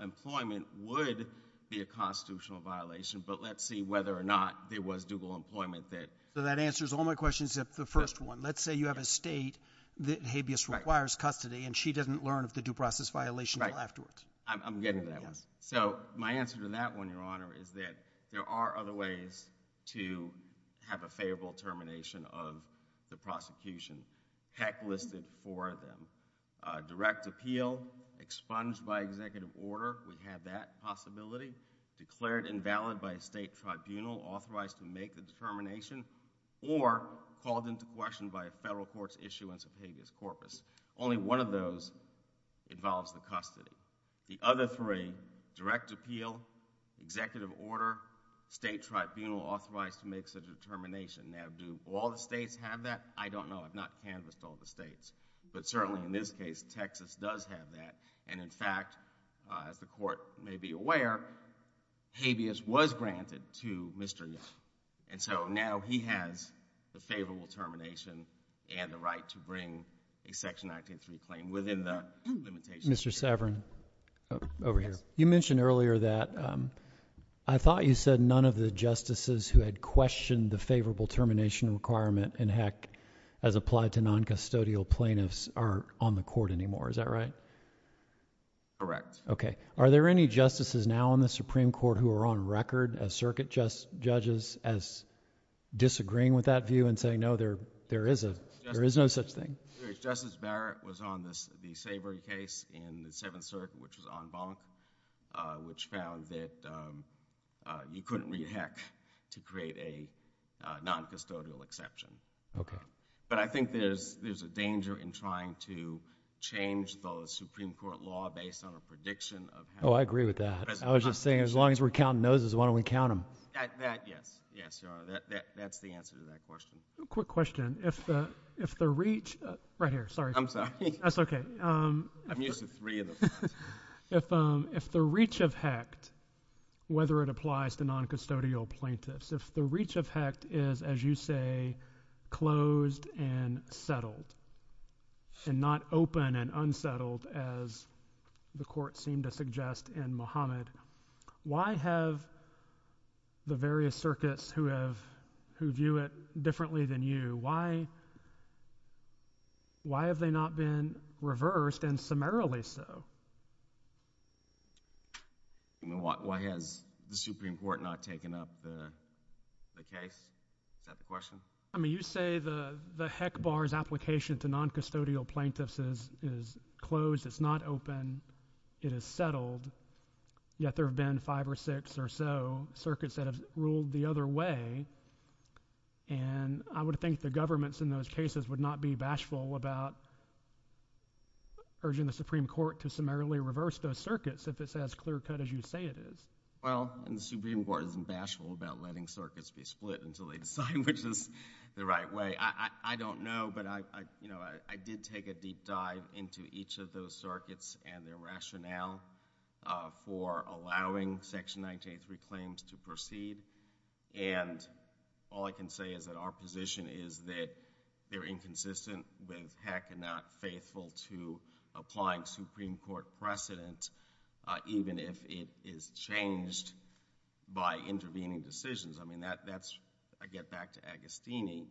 employment would be a constitutional violation, but let's see whether or not there was dual employment there. So that answers all my questions at the first one. Let's say you have a state that habeas requires custody and she didn't learn of the due process violation afterwards. I'm getting there. So my answer to that one, Your Honor, is that there are other ways to have a favorable termination of the prosecution. PAC listed four of them. Direct appeal, expunged by executive order, we have that possibility. Declared invalid by a state tribunal, authorized to make the determination, or called into question by a federal court's issuance of habeas corpus. Only one of those involves the custody. The other three, direct appeal, executive order, state tribunal authorized to make such a determination. Now, do all the states have that? I don't know. I've not canvassed all the states. But certainly in this case, Texas does have that. And in fact, as the court may be aware, habeas was granted to Mr. Nye. And so now he has the favorable termination and the right to bring a section 983 claim within that limitation. Mr. Saverin, over here. You mentioned earlier that I thought you said none of the justices who had questioned the favorable termination requirement, and heck, as applied to non-custodial plaintiffs, are on the court anymore. Is that right? Correct. Are there any justices now in the Supreme Court who are on record as circuit judges as disagreeing with that view and saying, no, there is no such thing? Justice Barrett was on the Savery case in the Seventh Circuit, which was en banc, which found that you couldn't read heck to create a non-custodial exception. OK. But I think there's a danger in trying to change the Supreme Court law based on a prediction of how it's supposed to be. Oh, I agree with that. I was just saying, as long as we're counting noses, why don't we count them? That, yes. Yes, sir. That's the answer to that question. Quick question. If the reach of heck, whether it applies to non-custodial plaintiffs, if the reach of heck is, as you say, closed and settled and not open and unsettled, as the court seemed to suggest in Muhammad, why have the various circuits who view it differently than you, why have they not been reversed and summarily so? Why has the Supreme Court not taken up the case? Is that the question? I mean, you say the heck bar's application to non-custodial plaintiffs is closed, it's not open, it is settled, yet there have been five or six or so circuits that have ruled the other way, and I would think the governments in those cases would not be bashful about urging the Supreme Court to summarily reverse those circuits if it's as clear-cut as you say it is. Well, the Supreme Court isn't bashful about letting circuits be split until they decide which is the right way. I don't know, but I did take a deep dive into each of those circuits and their rationale for allowing Section 983 claims to proceed, and all I can say is that our position is that they're inconsistent, they're technically not faithful to applying Supreme Court precedents, even if it is changed by intervening decisions. I mean, that's, I get back to Agostini,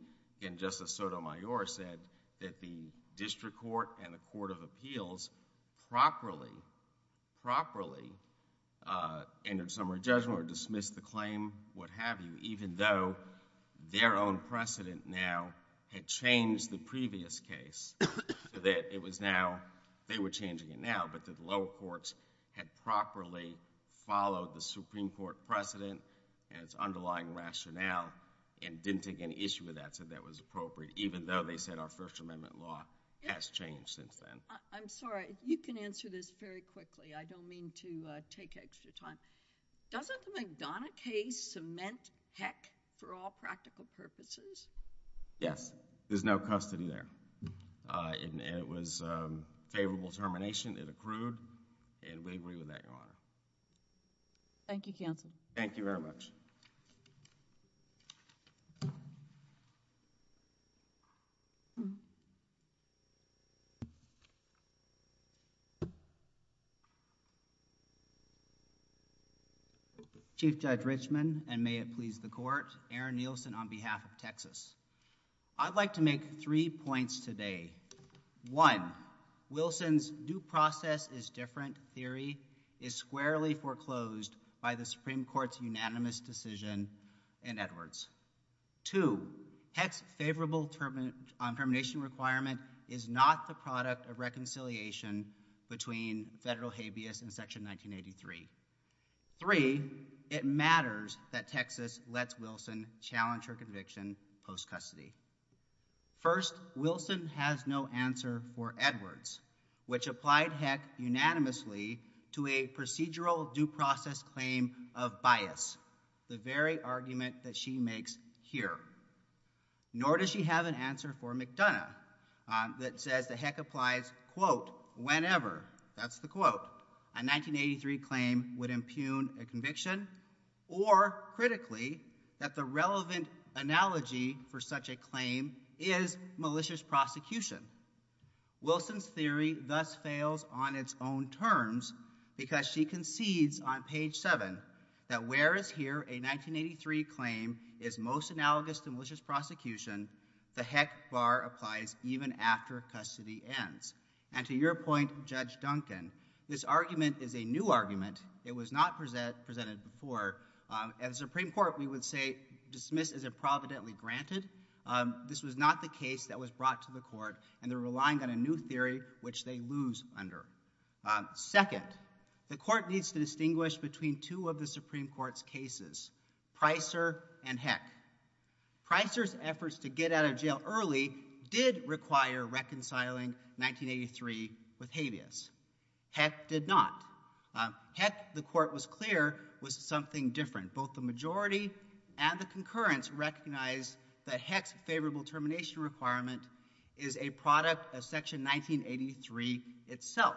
and Justice Sotomayor said that the district court and the court of appeals properly, properly in their summary judgment or dismissed the claim, what have you, even though their own precedent now had changed the previous case, that it was now, they were changing it now because lower courts had properly followed the Supreme Court precedent and its underlying rationale and didn't take any issue with that so that was appropriate, even though they didn't change it then. I'm sorry, you can answer this very quickly, I don't mean to take extra time. Doesn't McDonough case cement heck for all practical purposes? Yes, there's no custody there. It was favorable termination, it accrued, and we agree with that, Your Honor. Thank you, counsel. Thank you very much. Thank you. Chief Judge Richman, and may it please the court, Aaron Nielsen on behalf of Texas. I'd like to make three points today. One, Wilson's new process is different theory is squarely foreclosed by the Supreme Court's unanimous decision in Edwards. Two, Hecht's favorable termination requirement is not the product of reconciliation between federal habeas in section 1983. Three, it matters that Texas lets Wilson challenge her conviction post-custody. First, Wilson has no answer for Edwards, which applied Hecht unanimously to a procedural due process claim of bias, the very argument that she makes here. Nor does she have an answer for McDonough that says the heck applies, quote, whenever, that's the quote, a 1983 claim would impugn a conviction, or, critically, that the relevant analogy for such a claim is malicious prosecution. Wilson's theory thus fails on its own terms because she concedes on page seven that whereas here a 1983 claim is most analogous to malicious prosecution, the heck far applies even after custody ends. And to your point, Judge Duncan, this argument is a new argument. It was not presented before. At the Supreme Court, we would say dismiss as if providently granted. This was not the case that was brought to the court, and they're relying on a new theory, which they lose under. Second, the court needs to distinguish between two of the Supreme Court's cases, Pricer and Heck. Pricer's efforts to get out of jail early did require reconciling 1983 with habeas. Heck did not. Heck, the court was clear, was something different. Both the majority and the concurrence recognized that Heck's favorable termination requirement is a product of section 1983 itself.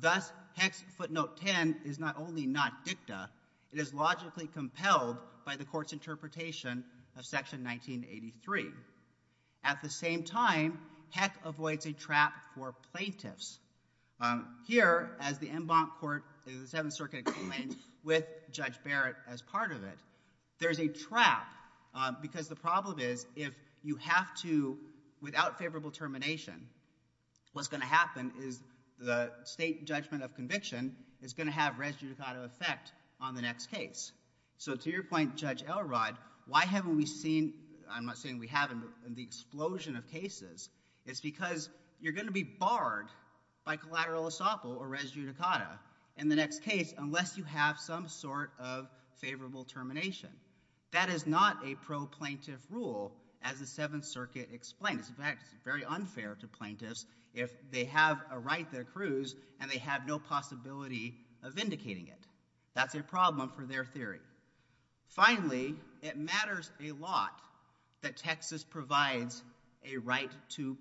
Thus, Heck's footnote 10 is not only not dicta, it is logically compelled by the court's interpretation of section 1983. At the same time, Heck avoids a trap for plaintiffs. Here, as the en banc court of the Seventh Circuit claims with Judge Barrett as part of it, there's a trap because the problem is if you have to, without favorable termination, what's going to happen is the state judgment of conviction is going to have res judicata effect on the next case. So to your point, Judge Elrod, why haven't we seen, I'm not saying we haven't, the explosion of cases? It's because you're going to be barred by collateral estoppel or res judicata in the next case unless you have some sort of favorable termination. That is not a pro-plaintiff rule, as the Seventh Circuit explains. In fact, it's very unfair to plaintiffs if they have a right to accrues and they have no possibility of vindicating it. That's a problem for their theory. Finally, it matters a lot that Texas provides a right to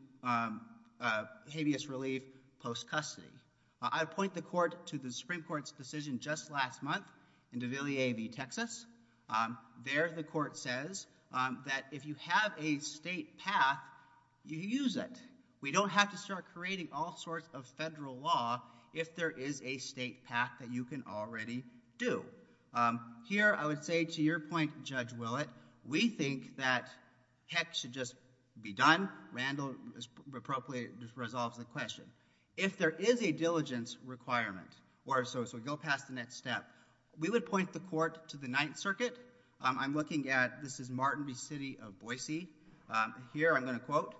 habeas relief post-custody. I point the court to the Supreme Court's decision just last month in De Villiers v. Texas. There, the court says that if you have a state path you use it. We don't have to start creating all sorts of federal law if there is a state path that you can already do. Here, I would say to your point, Judge Willett, we think that tech should just be done. Randall just resolves the question. If there is a diligence requirement, or so to go past the next step, we would point the court to the Ninth Circuit. I'm looking at, this is Martin v. City of Boise. Here, I'm going to quote,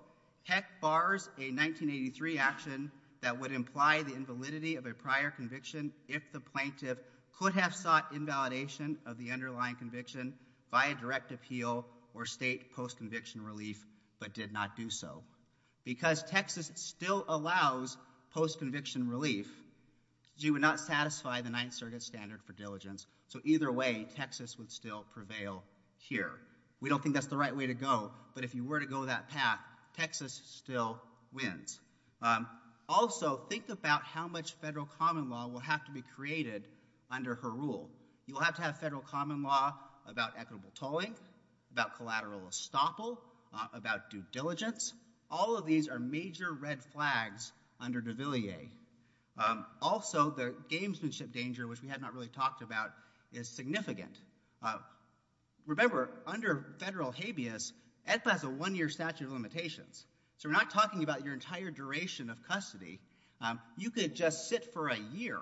Tech bars a 1983 action that would imply the invalidity of a prior conviction if the plaintiff could have sought invalidation of the underlying conviction by a direct appeal or state post-conviction relief but did not do so. Because Texas still allows post-conviction relief, you would not satisfy the Ninth Circuit standard for diligence. So either way, Texas would still prevail here. We don't think that's the right way to go, but if you were to go that path, Texas still wins. Also, think about how much federal common law will have to be created under her rule. You'll have to have federal common law about equitable tolling, about collateral estoppel, about due diligence. All of these are major red flags under DeVilliers. Also, the gamesmanship danger, which we have not really talked about, is significant. Remember, under federal habeas, it has a one-year statute of limitations. So we're not talking about your entire duration of custody. You could just sit for a year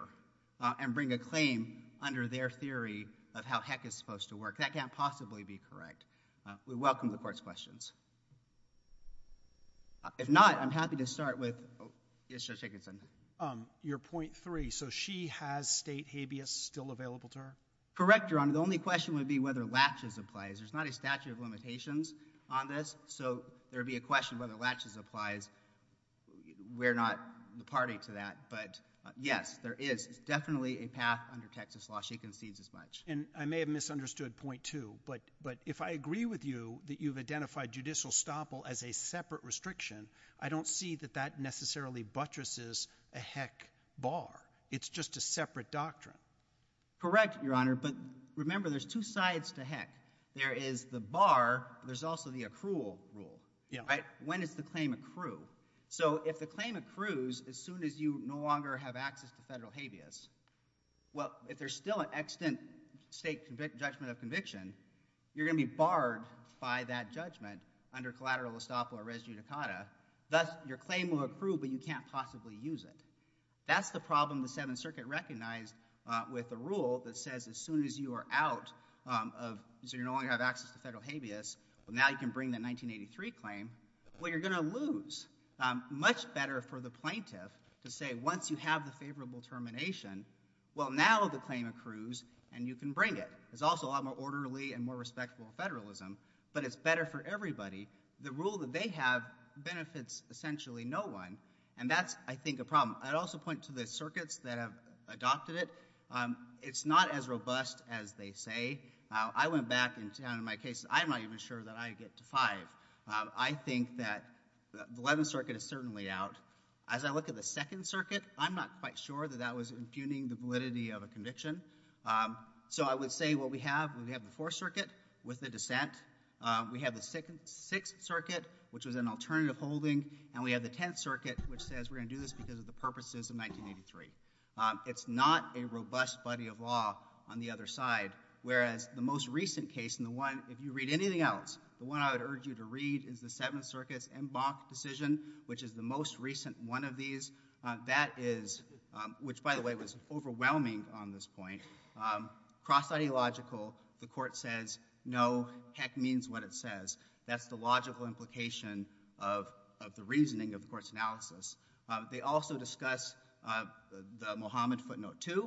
and bring a claim under their theory of how heck it's supposed to work. That can't possibly be correct. We welcome the Court's questions. If not, I'm happy to start with... Yes, Judge Higginson. Your point three, so she has state habeas still available to her? Correct, Your Honor. The only question would be whether laches applies. There's not a statute of limitations on this, so there would be a question whether laches applies. We're not the party to that, but yes, there is. It's definitely a path under Texas law. She concedes as much. And I may have misunderstood point two, but if I agree with you that you've identified judicial estoppel as a separate restriction, I don't see that that necessarily buttresses a heck bar. It's just a separate doctrine. Correct, Your Honor. But remember, there's two sides to heck. There is the bar. There's also the accrual rule. When does the claim accrue? So if the claim accrues as soon as you no longer have access to federal habeas, well, if there's still an extant state judgment of conviction, you're going to be barred by that judgment under collateral estoppel or res judicata. Thus, your claim will accrue, but you can't possibly use it. That's the problem the Seventh Circuit recognized with the rule that says as soon as you are out of, so you no longer have access to federal habeas, well, now you can bring the 1983 claim. Well, you're going to lose. Much better for the plaintiff to say, once you have the favorable termination, well, now the claim accrues, and you can bring it. It's also a lot more orderly and more respectful of federalism, but it's better for everybody. The rule that they have benefits essentially no one, and that's, I think, a problem. I'd also point to the circuits that have adopted it. It's not as robust as they say. I went back and said in my case, I'm not even sure that I get to five. I think that the Eleventh Circuit is certainly out. As I look at the Second Circuit, I'm not quite sure that that was impugning the validity of a conviction. So I would say what we have, we have the Fourth Circuit with the dissent, we have the Sixth Circuit, which was an alternative holding, and we have the Tenth Circuit, which says we're going to do this because of the purposes of 1983. It's not a robust body of law on the other side, whereas the most recent case, and if you read anything else, the one I would urge you to read is the Seventh Circuit's en banc decision, which is the most recent one of these. That is, which, by the way, was overwhelming on this point. Cross-ideological, the court says, no, heck means what it says. That's the logical implication of the reasoning of the court's analysis. They also discuss the Mohammed's Quick Note II.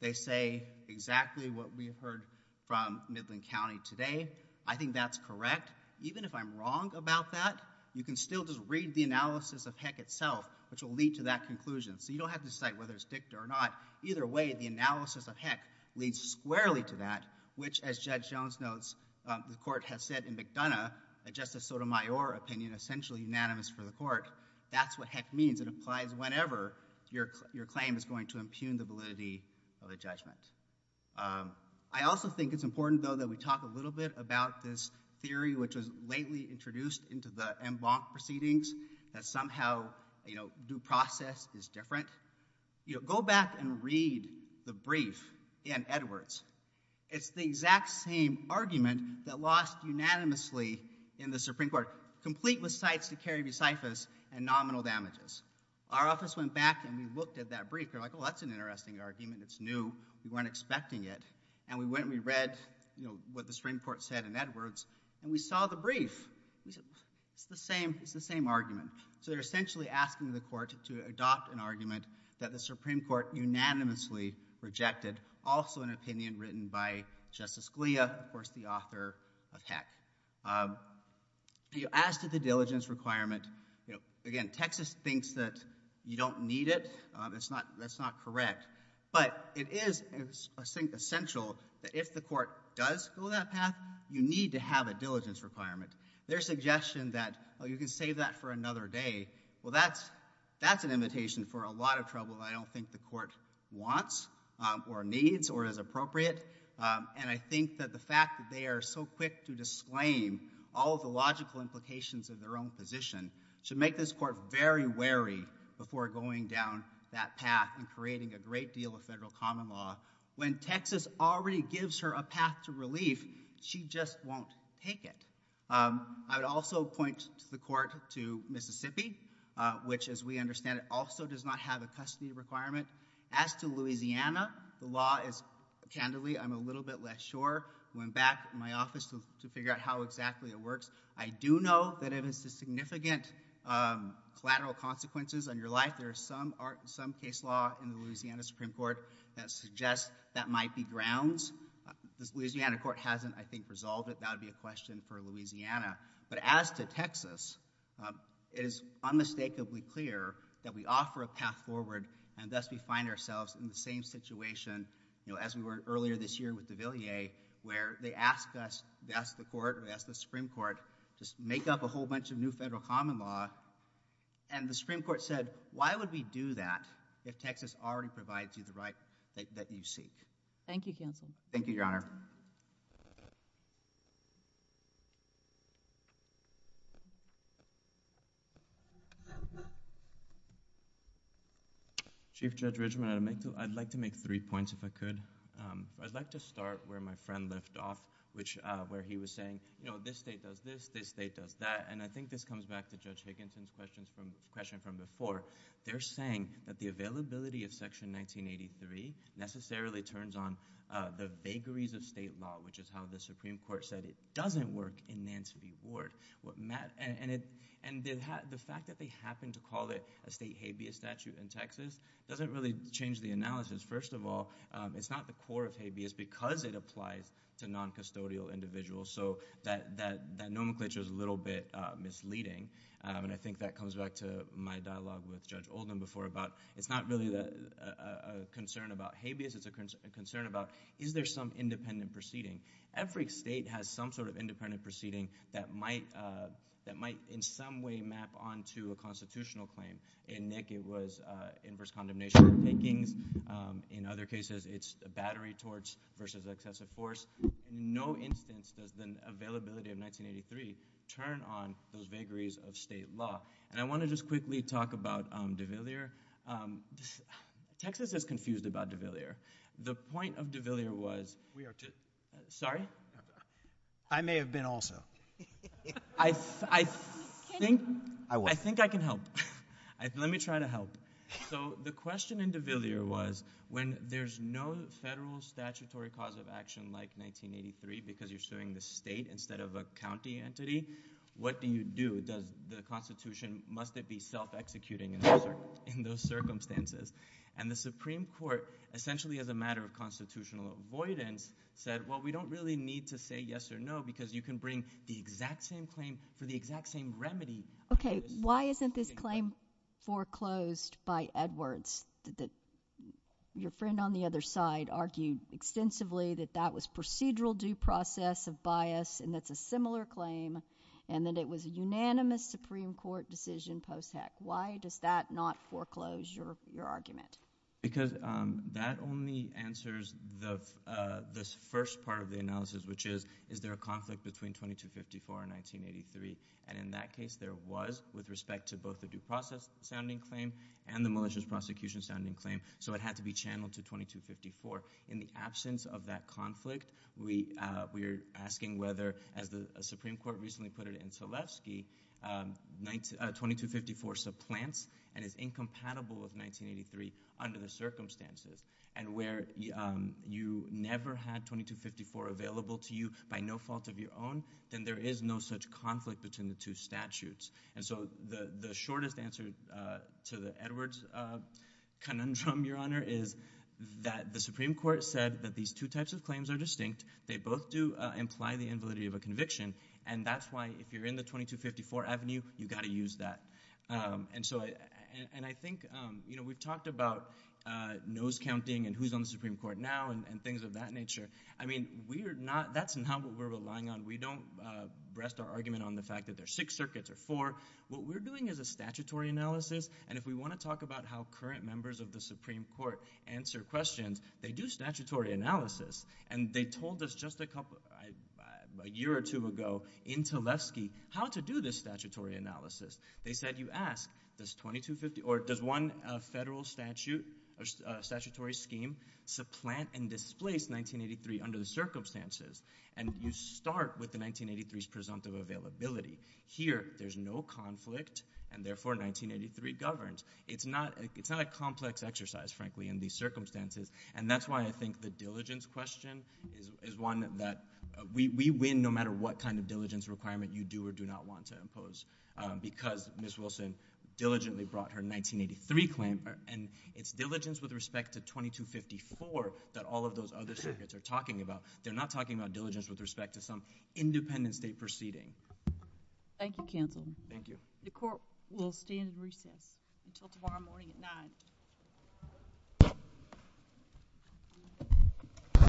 They say exactly what we've heard from Midland County today. I think that's correct. Even if I'm wrong about that, you can still just read the analysis of Heck itself, which will lead to that conclusion. So you don't have to decide whether it's Victor or not. Either way, the analysis of Heck leads squarely to that, which, as Judge Jones notes, the court has said in McDonough, that Justice Sotomayor's opinion is essentially unanimous for the court. That's what Heck means. It applies whenever your claim is going to impugn the validity of a judgment. I also think it's important, though, that we talk a little bit about this theory, which was lately introduced into the en banc proceedings, that somehow due process is different. Go back and read the brief in Edwards. It's the exact same argument that lost unanimously in the Supreme Court, complete with cites to carry recifals and nominal damages. Our office went back and we looked at that brief. We're like, oh, that's an interesting argument. It's new. We weren't expecting it. And we went and we read what the Supreme Court said in Edwards, and we saw the brief. It's the same argument. So they're essentially asking the court to adopt an argument that the Supreme Court unanimously rejected, and also an opinion written by Justice Scalia, of course the author of Heck. As to the diligence requirement, again, Texas thinks that you don't need it. That's not correct. But it is essential that if the court does go that path, you need to have a diligence requirement. Their suggestion that, oh, you can save that for another day, well, that's an invitation for a lot of trouble that I don't think the court wants or needs or is appropriate. And I think that the fact that they are so quick to disclaim all of the logical implications of their own position should make this court very wary before going down that path and creating a great deal of federal common law. When Texas already gives her a path to relief, she just won't take it. I would also point the court to Mississippi, which, as we understand it, also does not have a custody requirement. As to Louisiana, the law is, candidly, I'm a little bit less sure. I went back to my office to figure out how exactly it works. I do know that if it's a significant collateral consequences on your life, there's some case law in the Louisiana Supreme Court that suggests that might be grounds. The Louisiana court hasn't, I think, resolved it. That would be a question for Louisiana. But as to Texas, it is unmistakably clear that we offer a path forward and thus we find ourselves in the same situation, as we were earlier this year with DeVilliers, where they asked us, asked the court, asked the Supreme Court, to make up a whole bunch of new federal common law. And the Supreme Court said, why would we do that if Texas already provides you the right that you seek? Thank you, counsel. Thank you, Your Honor. Chief Judge Richmond, I'd like to make three points, if I could. I'd like to start where my friend left off, where he was saying, you know, this state does this, this state does that. And I think this comes back to Judge Higginson's question from before. They're saying that the availability of Section 1983 necessarily turns on the vagaries of state law, which is how the Supreme Court said it doesn't work in Mansfield. And the fact that they happen to call it a state habeas statute in Texas doesn't really change the analysis. First of all, it's not the core of habeas because it applies to noncustodial individuals. So that nomenclature is a little bit misleading. And I think that comes back to my dialogue with Judge Oldham before, about it's not really a concern about habeas, it's a concern about is there some independent proceeding. Every state has some sort of independent proceeding that might in some way map on to a constitutional claim. In Nick, it was inverse condemnation of rankings. In other cases, it's a battery torch versus excessive force. No instance does the availability of 1983 turn on those vagaries of state law. And I want to just quickly talk about DeVilliers. Texas is confused about DeVilliers. The point of DeVilliers was... We are good. Sorry? I may have been also. I think I can help. Let me try to help. So the question in DeVilliers was when there's no federal statutory cause of action like 1983 because you're suing the state instead of a county entity, what do you do? Does the Constitution, must it be self-executing in those circumstances? And the Supreme Court, essentially as a matter of constitutional avoidance, said, well, we don't really need to say yes or no because you can bring the exact same claim for the exact same remedy. Okay, why isn't this claim foreclosed by Edwards? Your friend on the other side argued extensively that that was procedural due process of bias and that's a similar claim and that it was a unanimous Supreme Court decision post-act. Why does that not foreclose your argument? Because that only answers the first part of the analysis, which is, is there a conflict between 2254 and 1983? And in that case, there was with respect to both the due process-sounding claim and the malicious prosecution-sounding claim, so it had to be channeled to 2254. In the absence of that conflict, we are asking whether, as the Supreme Court recently put it in Tleskie, 2254 supplants and is incompatible with 1983 under the circumstances and where you never had 2254 available to you by no fault of your own, then there is no such conflict between the two statutes. And so the shortest answer to the Edwards conundrum, Your Honor, is that the Supreme Court said that these two types of claims are distinct. They both do imply the invalidity of a conviction and that's why if you're in the 2254 avenue, you've got to use that. And so I think we've talked about nose counting and who's on the Supreme Court now and things of that nature. I mean, that's not what we're relying on. We don't rest our argument on the fact that there are six circuits or four. What we're doing is a statutory analysis, and if we want to talk about how current members of the Supreme Court answer questions, they do statutory analysis. And they told us just a year or two ago in Tleskie how to do this statutory analysis. They said you ask does one federal statutory scheme supplant and displace 1983 under the circumstances and you start with the 1983's presumptive availability. Here, there's no conflict and therefore 1983 governs. It's not a complex exercise, frankly, in these circumstances and that's why I think the diligence question is one that we win no matter what kind of diligence requirement you do or do not want to impose because Ms. Wilson diligently brought her 1983 claim and it's diligence with respect to 2254 that all of those other circuits are talking about. They're not talking about diligence with respect to some independent state proceeding. Thank you, Counselor. Thank you. The court will stand recess until tomorrow morning at 9.